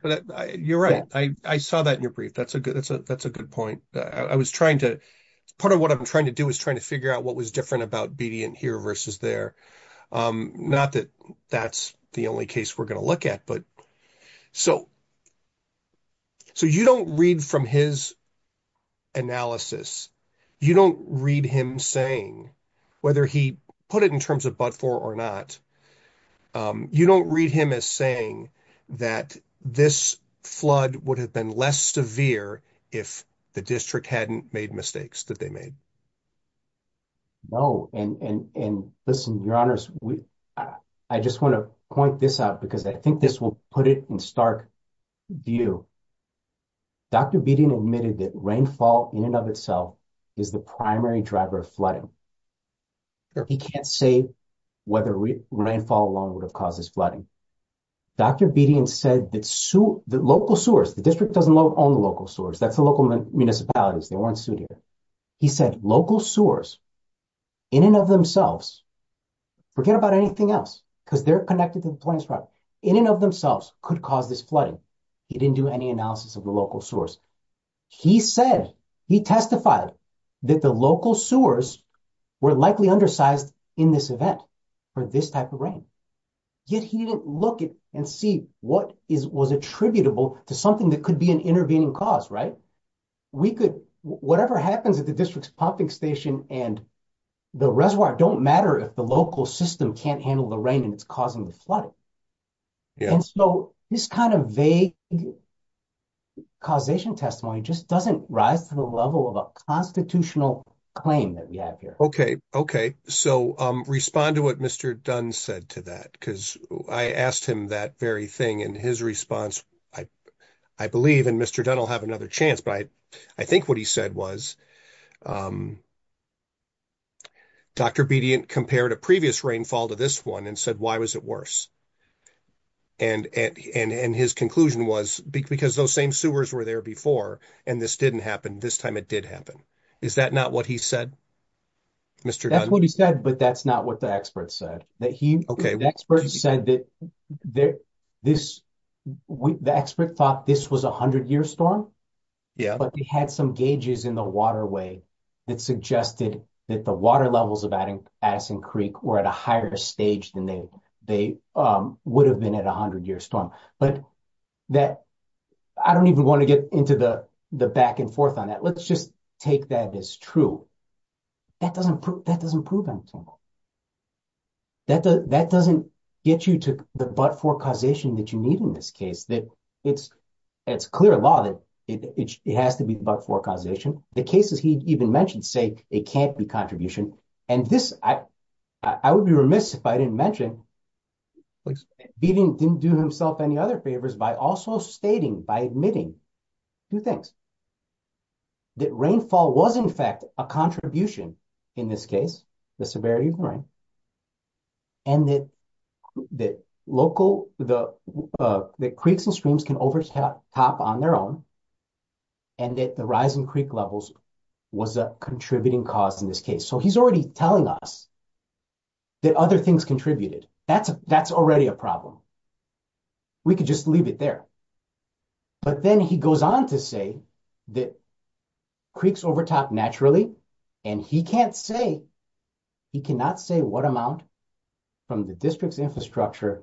You're right. I saw that in your brief. That's a good that's a that's a good point. I was trying to put on what I'm trying to do is trying to figure out what was different about Bedian here versus there. Not that that's the only case we're going to look at. So. So you don't read from his analysis. You don't read him saying whether he put it in terms of but for or not. You don't read him as saying that this flood would have been less severe if the district hadn't made mistakes that they made. No, and listen, your honors, I just want to point this out because I think this will put it in stark view. Dr. Bedian admitted that rainfall in and of itself is the primary driver of flooding. He can't say whether rainfall alone would have caused this flooding. Dr. Bedian said that local sewers, the district doesn't own local sewers. That's the local municipalities. They weren't suited. He said local sewers. In and of themselves. Forget about anything else, because they're connected to the point in and of themselves could cause this flooding. He didn't do any analysis of the local source. He said he testified that the local sewers were likely undersized in this event for this type of rain. He didn't look at and see what is was attributable to something that could be an intervening cause, right? Whatever happens at the district's parking station and the reservoir don't matter if the local system can't handle the rain that's causing the flood. And so this kind of vague causation testimony just doesn't rise to the level of a constitutional claim that we have here. Okay, okay. So respond to what Mr. Dunn said to that, because I asked him that very thing. And his response, I believe, and Mr. Dunn will have another chance. But I think what he said was, Dr. Bedian compared a previous rainfall to this one and said, why was it worse? And his conclusion was, because those same sewers were there before, and this didn't happen, this time it did happen. Is that not what he said? That's what he said, but that's not what the expert said. The expert said that the expert thought this was a 100-year storm. But they had some gauges in the waterway that suggested that the water levels of Addison Creek were at a higher stage than they would have been at a 100-year storm. But I don't even want to get into the back and forth on that. Let's just take that as true. That doesn't prove anything. That doesn't get you to the but-for causation that you need in this case. It's clear law that it has to be the but-for causation. The cases he even mentioned say it can't be contribution. And this, I would be remiss if I didn't mention, Bedian didn't do himself any other favors by also stating, by admitting two things. That rainfall was, in fact, a contribution in this case, the severity of rain. And that local, that creeks and streams can overtop on their own. And that the rising creek levels was a contributing cause in this case. So he's already telling us that other things contributed. That's already a problem. We could just leave it there. But then he goes on to say that creeks overtop naturally. And he can't say, he cannot say what amount from the district's infrastructure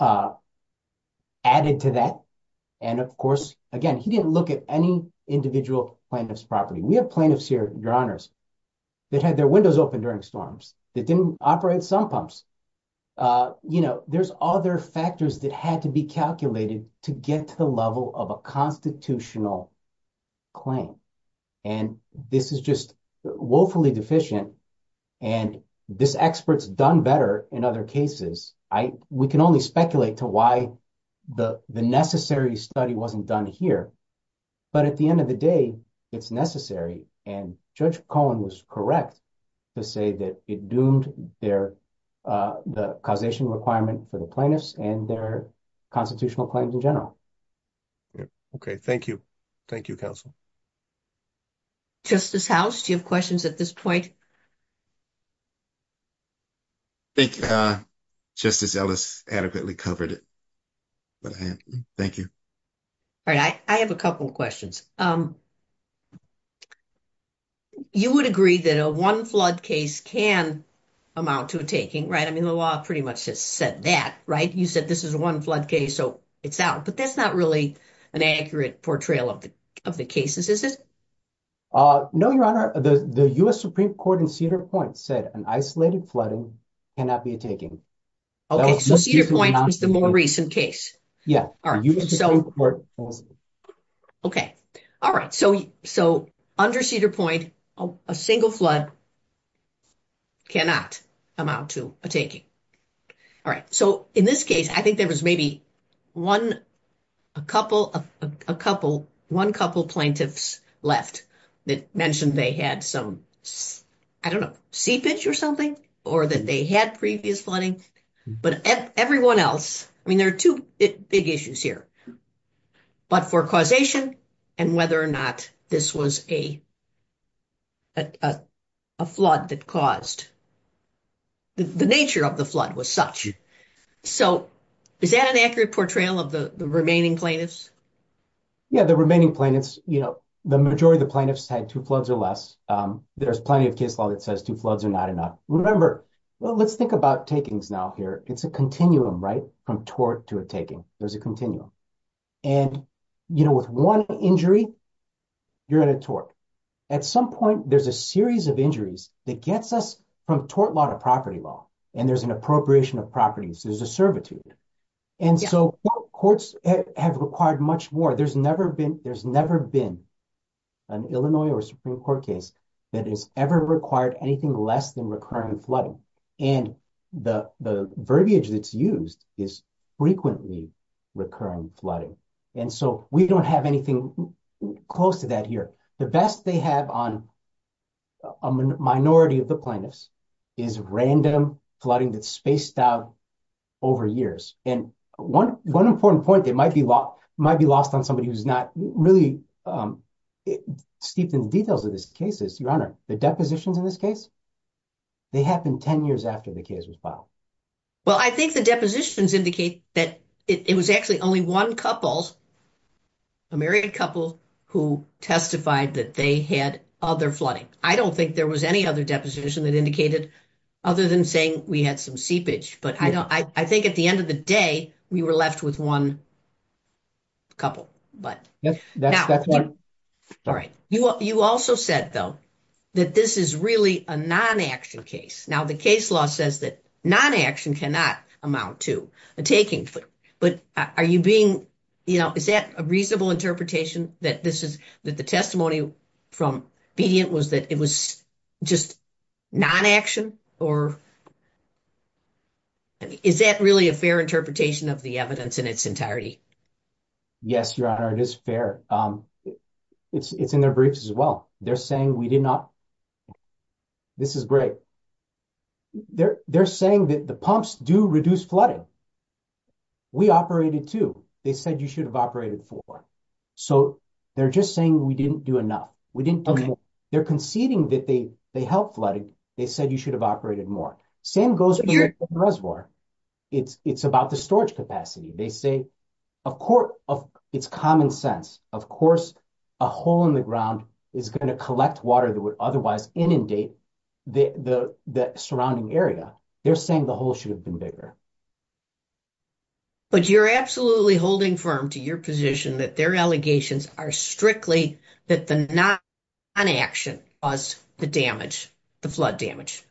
added to that. And, of course, again, he didn't look at any individual plaintiff's property. We have plaintiffs here, your honors, that had their windows open during storms. That didn't operate sump pumps. You know, there's other factors that had to be calculated to get to the level of a constitutional claim. And this is just woefully deficient. And this expert's done better in other cases. We can only speculate to why the necessary study wasn't done here. But at the end of the day, it's necessary. And Judge Cohen was correct to say that it doomed their causation requirement for the plaintiffs and their constitutional claims in general. Okay. Thank you. Thank you, counsel. Justice House, do you have questions at this point? I think Justice Ellis adequately covered it. Thank you. All right. I have a couple of questions. You would agree that a one-flood case can amount to a taking, right? I mean, the law pretty much has said that, right? You said this is a one-flood case, so it's out. But that's not really an accurate portrayal of the cases, is it? No, your honor. The U.S. Supreme Court in Cedar Point said an isolated flooding cannot be a taking. Okay. So Cedar Point was the more recent case. Yeah. Okay. All right. So under Cedar Point, a single flood cannot amount to a taking. All right. So in this case, I think there was maybe one couple plaintiffs left that mentioned they had some, I don't know, seepage or something, or that they had previous flooding. But everyone else, I mean, there are two big issues here. But for causation and whether or not this was a flood that caused. The nature of the flood was such. So is that an accurate portrayal of the remaining plaintiffs? Yeah, the remaining plaintiffs, you know, the majority of the plaintiffs had two floods or less. There's plenty of case law that says two floods are not enough. Remember, well, let's think about takings now here. It's a continuum, right, from tort to a taking. There's a continuum. And, you know, with one injury, you're in a tort. At some point, there's a series of injuries that gets us from tort law to property law. And there's an appropriation of properties. There's a servitude. And so courts have required much more. But there's never been an Illinois or Supreme Court case that has ever required anything less than recurrent flooding. And the verbiage that's used is frequently recurrent flooding. And so we don't have anything close to that here. The best they have on a minority of the plaintiffs is random flooding that's spaced out over years. And one important point that might be lost on somebody who's not really steeped in details of this case is, Your Honor, the depositions in this case, they happened 10 years after the case was filed. Well, I think the depositions indicate that it was actually only one couple, a married couple, who testified that they had other flooding. I don't think there was any other deposition that indicated other than saying we had some seepage. But I think at the end of the day, we were left with one couple. You also said, though, that this is really a non-action case. Now, the case law says that non-action cannot amount to a taking. But are you being, you know, is that a reasonable interpretation that the testimony from Pediant was that it was just non-action? Or is that really a fair interpretation of the evidence in its entirety? Yes, Your Honor, it is fair. It's in their briefs as well. They're saying we did not. This is great. They're saying that the pumps do reduce flooding. We operated two. They said you should have operated four. So they're just saying we didn't do enough. We didn't do enough. They're conceding that they helped flooding. They said you should have operated more. Same goes for the reservoir. It's about the storage capacity. They say, of course, it's common sense. Of course, a hole in the ground is going to collect water that would otherwise inundate the surrounding area. They're saying the hole should have been bigger. But you're absolutely holding firm to your position that their allegations are strictly that the non-action was the damage, the flood damage,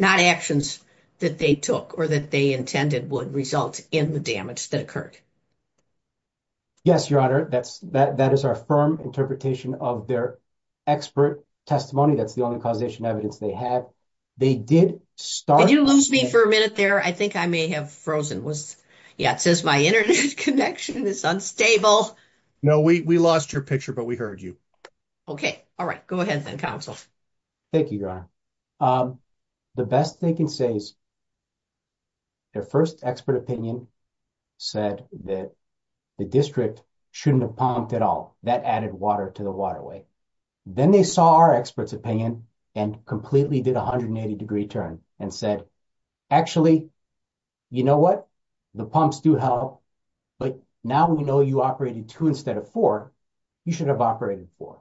not actions that they took or that they intended would result in the damage that occurred. Yes, Your Honor, that is our firm interpretation of their expert testimony. That's the only causation evidence they have. They did start- Did you lose me for a minute there? I think I may have frozen. Yeah, it says my internet connection is unstable. No, we lost your picture, but we heard you. Okay. All right. Go ahead then, Counsel. Thank you, Your Honor. The best they can say is their first expert opinion said that the district shouldn't have pumped at all. That added water to the waterway. Then they saw our expert's opinion and completely did a 180-degree turn and said, actually, you know what? The pumps do help, but now we know you operated two instead of four. You should have operated four.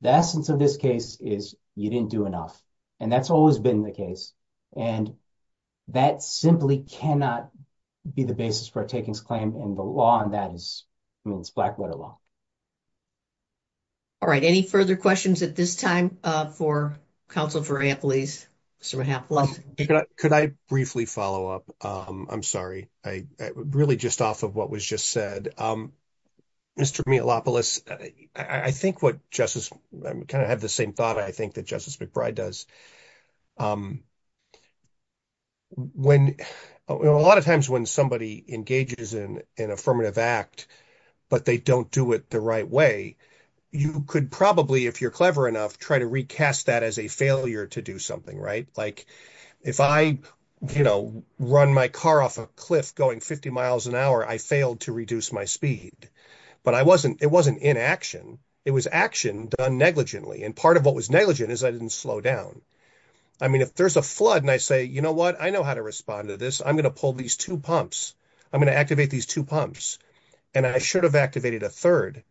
The absence of this case is you didn't do enough. And that's always been the case. And that simply cannot be the basis for a takings claim, and the law on that is Blackwater law. All right. Any further questions at this time for Counsel Varela, please? Mr. McLaughlin? Could I briefly follow up? I'm sorry. Really just off of what was just said. Mr. Milopoulos, I think what Justice – I kind of have the same thought, I think, that Justice McBride does. A lot of times when somebody engages in an affirmative act, but they don't do it the right way, you could probably, if you're clever enough, try to recast that as a failure to do something, right? Like if I, you know, run my car off a cliff going 50 miles an hour, I failed to reduce my speed. But I wasn't – it wasn't inaction. It was action done negligently. And part of what was negligent is I didn't slow down. I mean, if there's a flood and I say, you know what? I know how to respond to this. I'm going to pull these two pumps. I'm going to activate these two pumps. And I should have activated a third.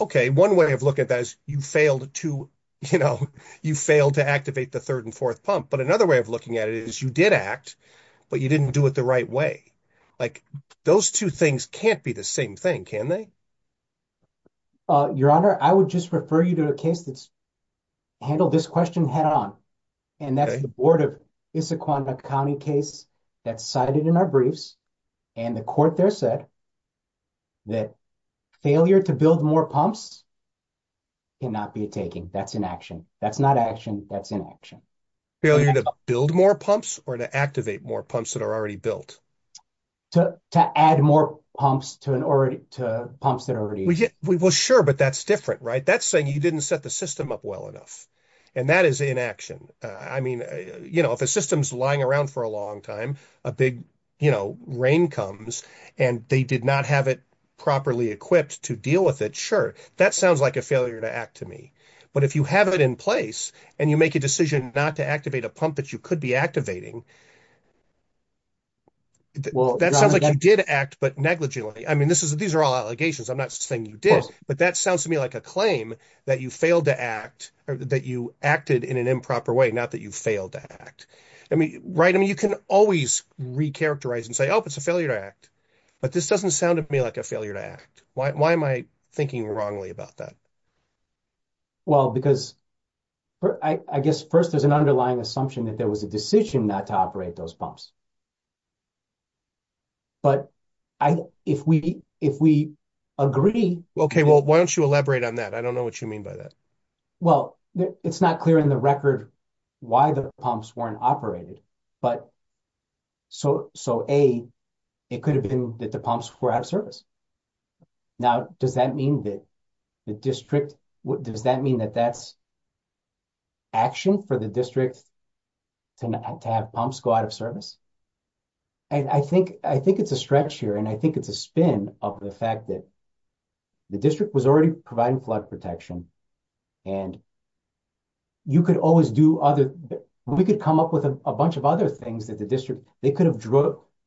Okay, one way of looking at that is you failed to, you know, you failed to activate the third and fourth pump. But another way of looking at it is you did act, but you didn't do it the right way. Like those two things can't be the same thing, can they? Your Honor, I would just refer you to a case that's handled this question head on. And that's the Board of Issaquah County case that's cited in our briefs. And the court there said that failure to build more pumps cannot be taken. That's inaction. That's not action. That's inaction. Failure to build more pumps or to activate more pumps that are already built? To add more pumps to pumps that are already built. Well, sure, but that's different, right? That's saying you didn't set the system up well enough. And that is inaction. I mean, you know, if a system's lying around for a long time, a big, you know, rain comes, and they did not have it properly equipped to deal with it, sure, that sounds like a failure to act to me. But if you have it in place and you make a decision not to activate a pump that you could be activating, that sounds like you did act, but negligently. I mean, these are all allegations. I'm not saying you did. But that sounds to me like a claim that you failed to act or that you acted in an improper way, not that you failed to act. I mean, right? I mean, you can always recharacterize and say, oh, it's a failure to act. But this doesn't sound to me like a failure to act. Why am I thinking wrongly about that? Well, because I guess first there's an underlying assumption that there was a decision not to operate those pumps. But if we agree. Okay, well, why don't you elaborate on that? I don't know what you mean by that. Well, it's not clear in the record why the pumps weren't operated. But so, A, it could have been that the pumps were out of service. Now, does that mean that the district, does that mean that that's action for the district to have pumps go out of service? And I think it's a stretch here. And I think it's a spin of the fact that the district was already providing flood protection. And you could always do other, we could come up with a bunch of other things that the district, they could have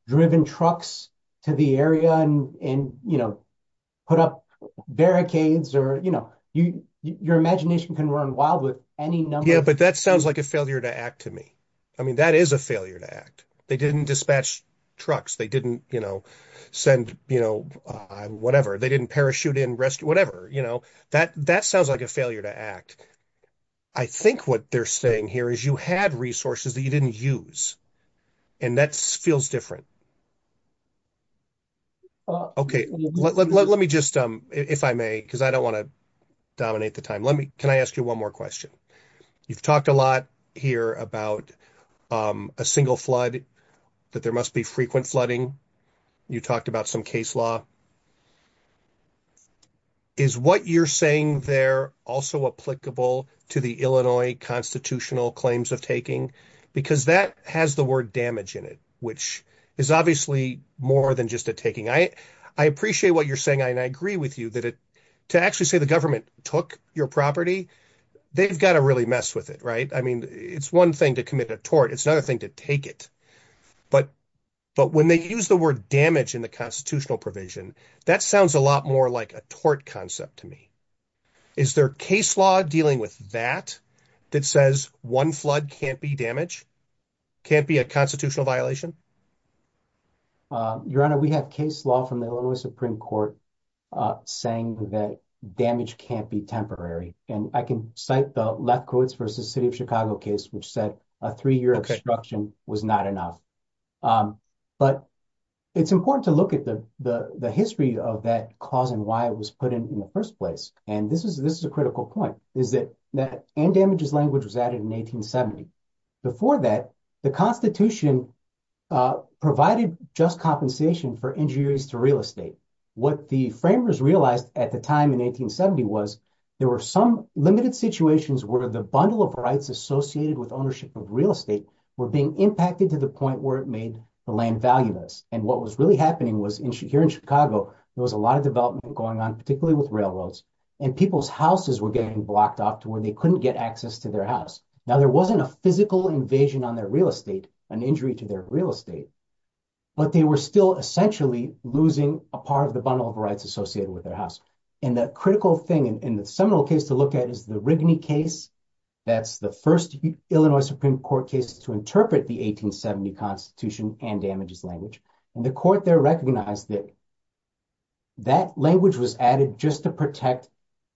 driven trucks to the area and, you know, put up barricades or, you know, your imagination can run wild with any number. Yeah, but that sounds like a failure to act to me. I mean, that is a failure to act. They didn't dispatch trucks. They didn't, you know, send, you know, whatever. They didn't parachute in, whatever. You know, that sounds like a failure to act. I think what they're saying here is you had resources that you didn't use. And that feels different. Okay. Let me just, if I may, because I don't want to dominate the time. Can I ask you one more question? You've talked a lot here about a single flood, that there must be frequent flooding. You talked about some case law. Is what you're saying there also applicable to the Illinois constitutional claims of taking? Because that has the word damage in it, which is obviously more than just a taking. I appreciate what you're saying, and I agree with you, that to actually say the government took your property, they've got to really mess with it, right? I mean, it's one thing to commit a tort. It's another thing to take it. But when they use the word damage in the constitutional provision, that sounds a lot more like a tort concept to me. Is there case law dealing with that that says one flood can't be damage, can't be a constitutional violation? Your Honor, we have case law from the Illinois Supreme Court saying that damage can't be temporary. And I can cite the Lepkowitz v. City of Chicago case, which said a three-year obstruction was not enough. But it's important to look at the history of that cause and why it was put in the first place. And this is a critical point, is that damages language was added in 1870. Before that, the Constitution provided just compensation for injuries to real estate. What the framers realized at the time in 1870 was there were some limited situations where the bundle of rights associated with ownership of real estate were being impacted to the point where it made the land valueless. And what was really happening was here in Chicago, there was a lot of development going on, particularly with railroads, and people's houses were getting blocked off to where they couldn't get access to their house. Now, there wasn't a physical invasion on their real estate, an injury to their real estate, but they were still essentially losing a part of the bundle of rights associated with their house. And the critical thing in the seminal case to look at is the Rigney case. That's the first Illinois Supreme Court case to interpret the 1870 Constitution and damages language. And the court there recognized that that language was added just to protect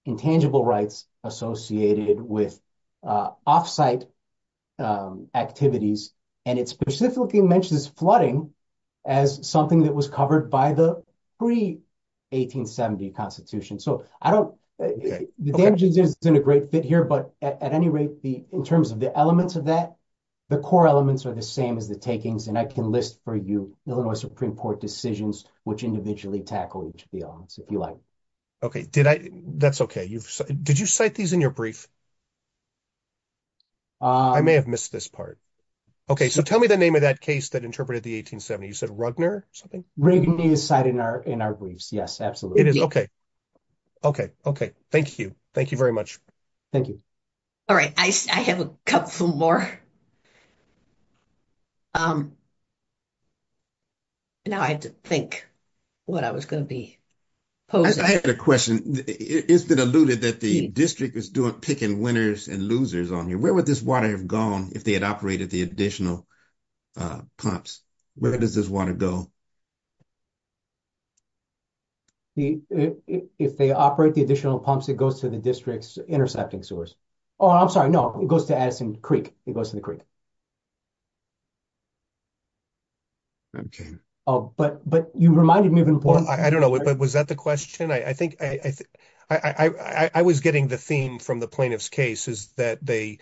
intangible rights associated with off-site activities, and it specifically mentions flooding as something that was covered by the pre-1870 Constitution. So I don't – the damages isn't a great fit here, but at any rate, in terms of the elements of that, the core elements are the same as the takings, and I can list for you Illinois Supreme Court decisions which individually tackle each of the elements, if you like. Okay, did I – that's okay. Did you cite these in your brief? I may have missed this part. Okay, so tell me the name of that case that interpreted the 1870. You said Rugner or something? Rigney is cited in our briefs, yes, absolutely. It is, okay. Okay, okay. Thank you. Thank you very much. Thank you. All right, I have a couple more. Now I had to think what I was going to be – I have a question. It's been alluded that the district is picking winners and losers on here. Where would this water have gone if they had operated the additional pumps? Where does this water go? If they operate the additional pumps, it goes to the district's intersecting source. Oh, I'm sorry, no, it goes to Addison Creek. It goes to the creek. Okay. But you reminded me of an important – I don't know. Was that the question? I think – I was getting the theme from the plaintiff's case is that they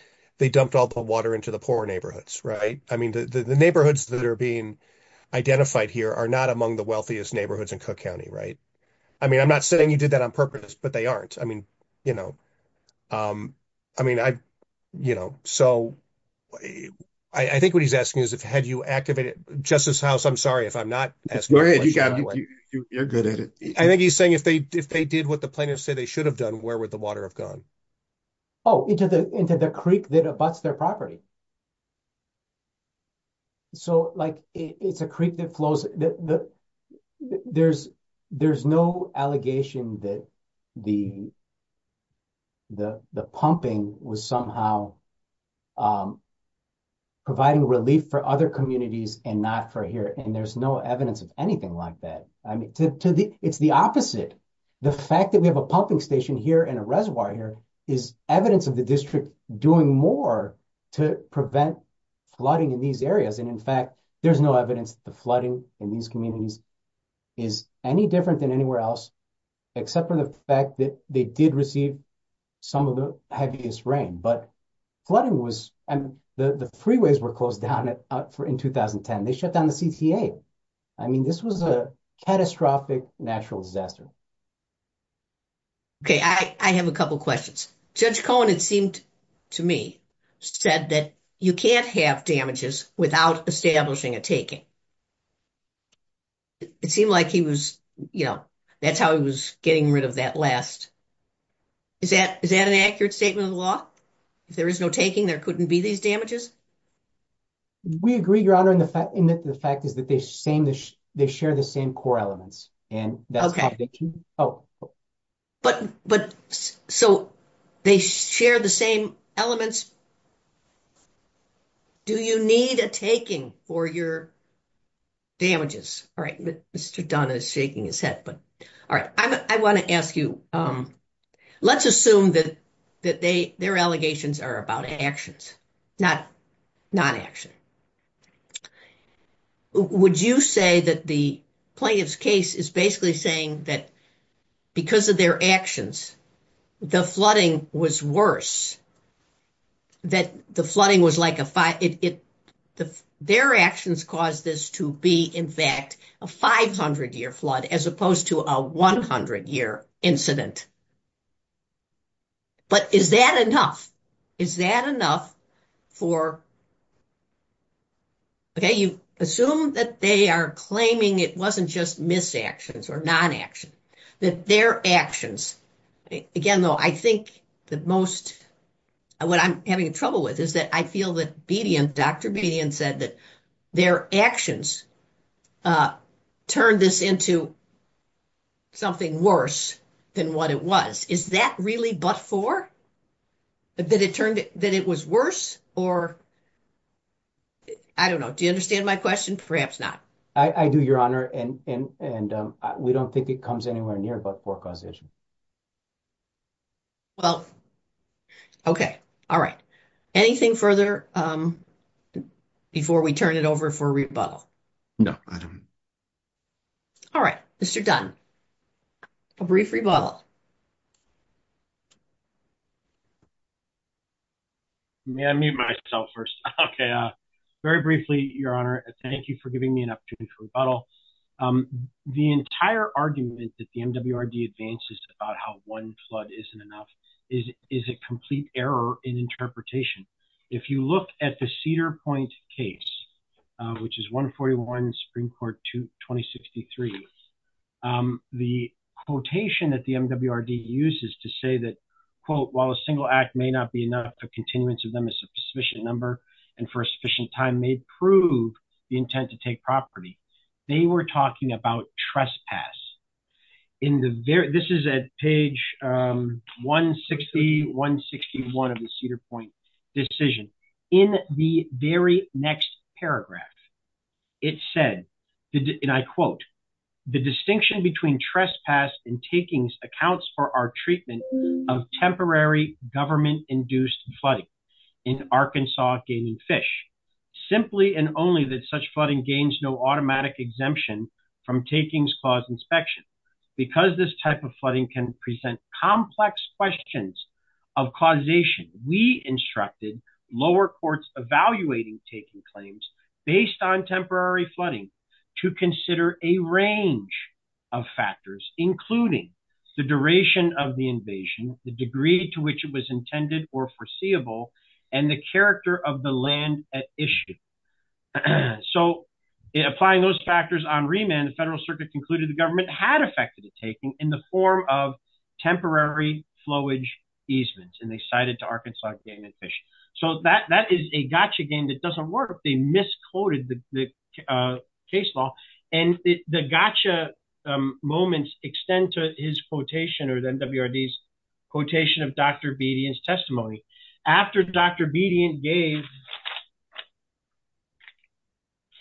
dumped all the water into the poor neighborhoods, right? I mean, the neighborhoods that are being identified here are not among the wealthiest neighborhoods in Cook County, right? I mean, I'm not saying you did that on purpose, but they aren't. I mean, you know, so I think what he's asking is have you activated – Justice House, I'm sorry if I'm not – I think he's saying if they did what the plaintiff said they should have done, where would the water have gone? Oh, into the creek that abuts their property. So, like, it's a creek that flows – there's no allegation that the pumping was somehow providing relief for other communities and not for here, and there's no evidence of anything like that. I mean, it's the opposite. The fact that we have a pumping station here and a reservoir here is evidence of the district doing more to prevent flooding in these areas. And, in fact, there's no evidence that the flooding in these communities is any different than anywhere else except for the fact that they did receive some of the heaviest rain. But flooding was – and the freeways were closed down in 2010. They shut down the CTA. I mean, this was a catastrophic natural disaster. Okay, I have a couple questions. Judge Cohen, it seemed to me, said that you can't have damages without establishing a taking. It seemed like he was – you know, that's how he was getting rid of that last – is that an accurate statement of the law? If there is no taking, there couldn't be these damages? We agree, Your Honor, in that the fact is that they share the same core elements. But – so they share the same elements? Do you need a taking for your damages? All right, Mr. Dunn is shaking his head, but – all right, I want to ask you. Let's assume that their allegations are about actions, not action. Would you say that the plaintiff's case is basically saying that because of their actions, the flooding was worse? That the flooding was like a – their actions caused this to be, in fact, a 500-year flood as opposed to a 100-year incident? But is that enough? Is that enough for – okay, you assume that they are claiming it wasn't just mis-actions or non-actions. You assume that their actions – again, though, I think that most – what I'm having trouble with is that I feel that Dr. Bedian said that their actions turned this into something worse than what it was. Is that really but-for? That it turned – that it was worse or – I don't know. Do you understand my question? Perhaps not. I do, Your Honor, and we don't think it comes anywhere near but-for causation. Well, okay. All right. Anything further before we turn it over for rebuttal? No, I don't. All right, Mr. Dunn, a brief rebuttal. May I mute myself first? Okay. Very briefly, Your Honor, thank you for giving me an opportunity for rebuttal. The entire argument that the MWRD advances about how one flood isn't enough is a complete error in interpretation. If you look at the Cedar Point case, which is 141 in Supreme Court 2063, the quotation that the MWRD uses to say that, quote, While a single act may not be enough, a continuance of them is a sufficient number and for a sufficient time may prove the intent to take property, they were talking about trespass. This is at page 160, 161 of the Cedar Point decision. In the very next paragraph, it said, and I quote, The distinction between trespass and takings accounts for our treatment of temporary government-induced flooding in Arkansas gaining fish. Simply and only that such flooding gains no automatic exemption from takings clause inspection. Because this type of flooding can present complex questions of causation, we instructed lower courts evaluating taking claims based on temporary flooding to consider a range of factors, including the duration of the invasion, the degree to which it was intended or foreseeable, and the character of the land at issue. So, applying those factors on remand, the Federal Circuit concluded the government had effected the taking in the form of temporary flowage easements, and they cited to Arkansas gaining fish. So that is a gotcha game that doesn't work. They misquoted the case law. And the gotcha moments extend to his quotation or the MWRD's quotation of Dr. Bedian's testimony. After Dr. Bedian gave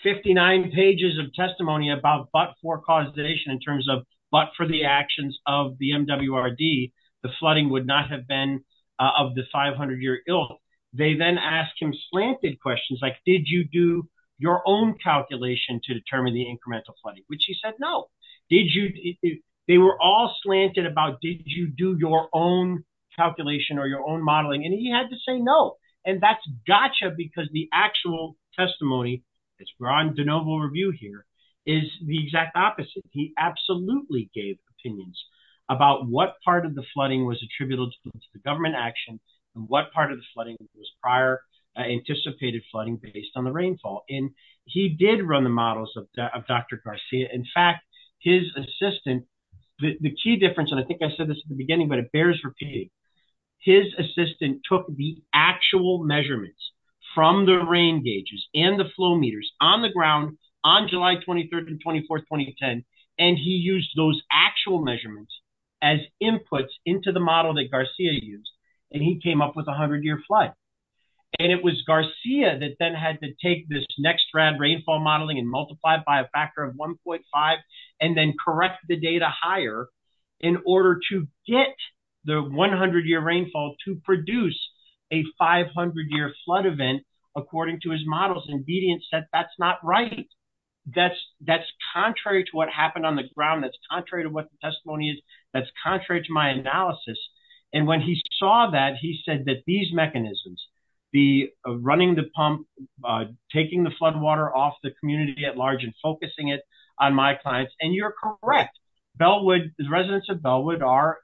59 pages of testimony about but-for causation in terms of but-for the actions of the MWRD, the flooding would not have been of the 500-year ill. They then asked him slanted questions like, did you do your own calculation to determine the incremental flooding, which he said no. They were all slanted about did you do your own calculation or your own modeling, and he had to say no. And that's gotcha because the actual testimony, it's broad and de novo review here, is the exact opposite. He absolutely gave opinions about what part of the flooding was attributable to the government action and what part of the flooding was prior anticipated flooding based on the rainfall. And he did run the models of Dr. Garcia. In fact, his assistant, the key difference, and I think I said this in the beginning, but it bears repeating, his assistant took the actual measurements from the rain gauges and the flow meters on the ground on July 23rd and 24th, 2010, and he used those actual measurements as inputs into the model that Garcia used, and he came up with a 100-year flood. And it was Garcia that then had to take this next round rainfall modeling and multiply it by a factor of 1.5 and then correct the data higher in order to get the 100-year rainfall to produce a 500-year flood event, according to his models. And Bedian said that's not right. That's contrary to what happened on the ground. That's contrary to what the testimony is. That's contrary to my analysis. And when he saw that, he said that these mechanisms, the running the pump, taking the flood water off the community at large and focusing it on my clients, and you're correct. The residents of Bellwood are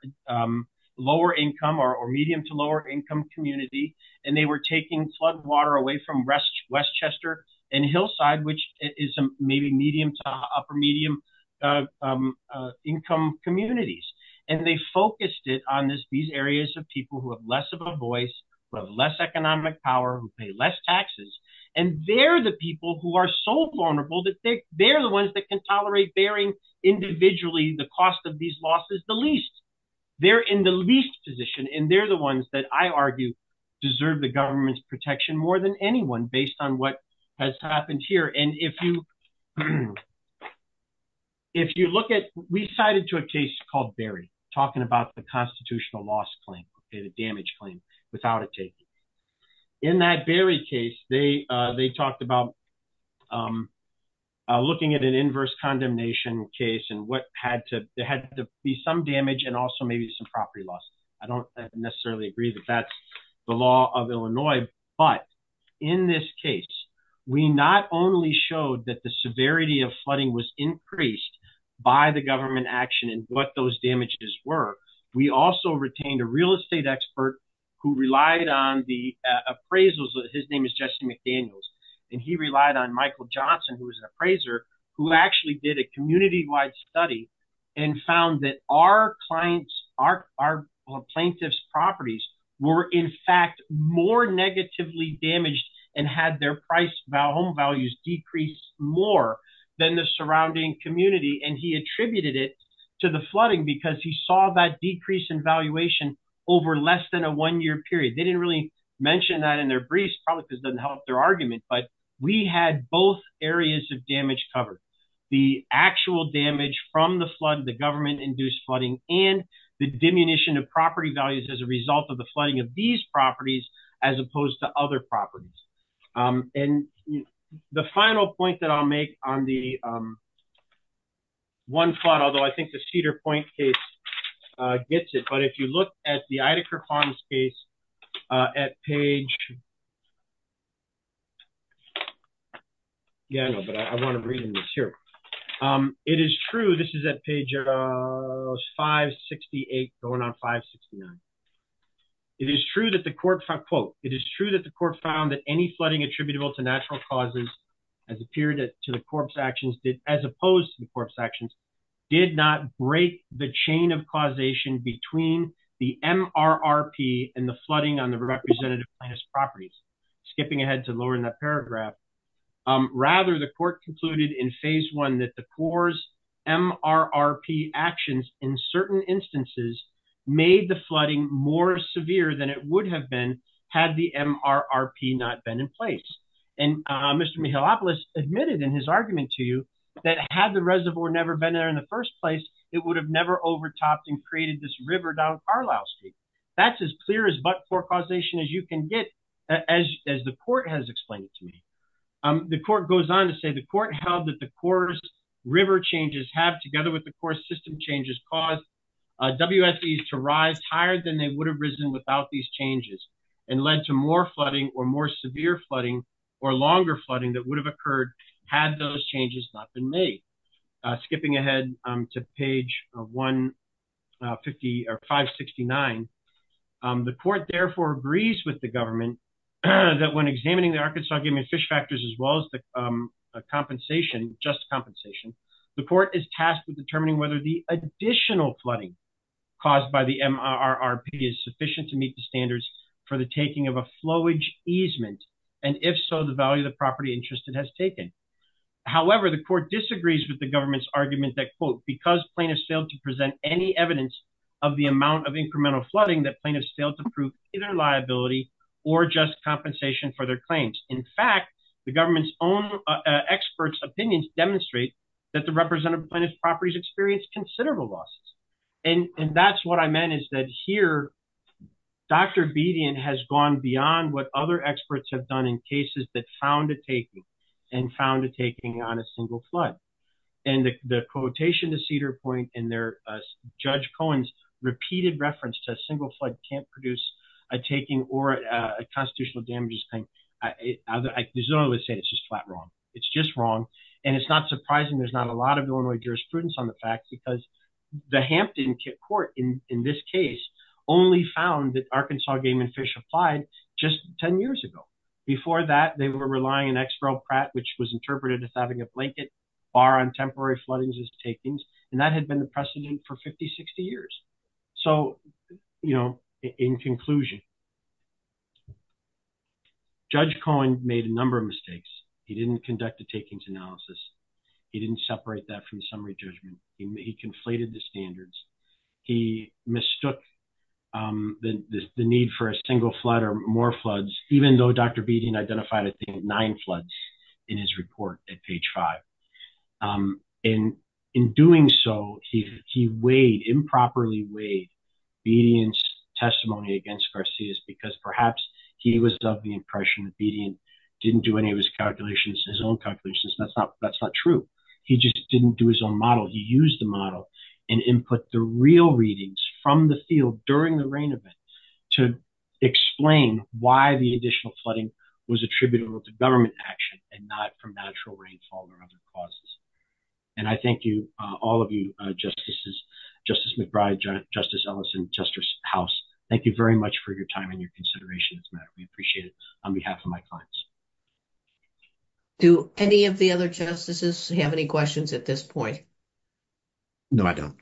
lower-income or medium-to-lower-income community, and they were taking flood water away from Westchester and Hillside, which is maybe medium-to-upper-medium income communities. And they focused it on these areas of people who have less of a voice, who have less economic power, who pay less taxes, and they're the people who are so vulnerable that they're the ones that can tolerate bearing individually the cost of these losses the least. They're in the least position, and they're the ones that I argue deserve the government's protection more than anyone based on what has happened here. And if you look at – we cited to a case called Berry, talking about the constitutional loss claim, the damage claim, without a taking. In that Berry case, they talked about looking at an inverse condemnation case and what had to – there had to be some damage and also maybe some property loss. I don't necessarily agree that that's the law of Illinois, but in this case, we not only showed that the severity of flooding was increased by the government action and what those damages were, we also retained a real estate expert who relied on the appraisals. His name is Justin McDaniels, and he relied on Michael Johnson, who was an appraiser, who actually did a community-wide study and found that our client's – our plaintiff's properties were in fact more negatively damaged and had their price – home values decreased more than the surrounding community, and he attributed it to the flooding because he saw that decrease in valuation over less than a one-year period. They didn't really mention that in their briefs, probably because it doesn't help their argument, but we had both areas of damage covered. The actual damage from the flood, the government-induced flooding, and the diminution of property values as a result of the flooding of these properties as opposed to other properties. The final point that I'll make on the one flood, although I think the Cedar Point case gets it, but if you look at the Idacard Farms case at page – yeah, I know, but I want to read in this here. It is true – this is at page 568, going on 569. It is true that the court – quote, it is true that the court found that any flooding attributable to natural causes as appeared to the corpse actions as opposed to the corpse actions did not break the chain of causation between the MRRP and the flooding on the representative plaintiff's properties. Skipping ahead to lower in that paragraph. Rather, the court concluded in phase one that the corpse MRRP actions in certain instances made the flooding more severe than it would have been had the MRRP not been in place. And Mr. Mihalopoulos admitted in his argument to you that had the reservoir never been there in the first place, it would have never overtopped and created this river down Carlisle Street. That's as clear as but for causation as you can get, as the court has explained it to me. The court goes on to say the court held that the course river changes have, together with the core system changes, caused WSEs to rise higher than they would have risen without these changes and led to more flooding or more severe flooding or longer flooding that would have occurred had those changes not been made. Skipping ahead to page 159. The court therefore agrees with the government that when examining the Arkansas Fish Factors as well as the compensation, just compensation, the court is tasked with determining whether the additional flooding caused by the MRRP is sufficient to meet the standards for the taking of a flowage easement, and if so, the value of the property interest it has taken. However, the court disagrees with the government's argument that quote, because plaintiffs failed to present any evidence of the amount of incremental flooding that plaintiffs failed to prove either liability or just compensation for their claims. In fact, the government's own experts opinions demonstrate that the representative plaintiff's properties experienced considerable losses. And that's what I meant is that here, Dr. Bedian has gone beyond what other experts have done in cases that found a taking and found a taking on a single flood. And the quotation to Cedar Point and Judge Cohen's repeated reference to a single flood can't produce a taking or a constitutional damages claim. There's no other saying it's just flat wrong. It's just wrong. And it's not surprising there's not a lot of Illinois jurisprudence on the facts because the Hampton Court in this case only found that Arkansas Game and Fish applied just 10 years ago. Before that, they were relying on Expro Pratt, which was interpreted as having a blanket bar on temporary floodings as takings, and that had been the precedent for 50, 60 years. So, you know, in conclusion. Judge Cohen made a number of mistakes. He didn't conduct a takings analysis. He didn't separate that from summary judgment. He conflated the standards. He mistook the need for a single flood or more floods, even though Dr. Bedian identified nine floods in his report at page five. And in doing so, he weighed, improperly weighed Bedian's testimony against Garcia's because perhaps he was of the impression that Bedian didn't do any of his calculations, his own calculations. That's not true. He just didn't do his own model. He used the model and input the real readings from the field during the rain event to explain why the additional flooding was attributable to government action and not from natural rainfall or other causes. And I thank you, all of you, Justices, Justice McBride, Justice Ellison, Justice House. Thank you very much for your time and your consideration of this matter. We appreciate it. On behalf of my clients. Do any of the other Justices have any questions at this point? No, I don't.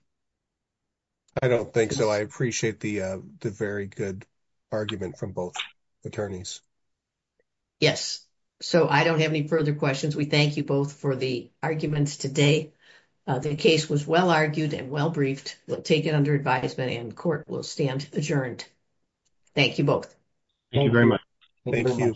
I don't think so. I appreciate the very good argument from both attorneys. Yes. So, I don't have any further questions. We thank you both for the arguments today. The case was well argued and well briefed. We'll take it under advisement and court will stand adjourned. Thank you both. Thank you very much. Thank you. Thank you.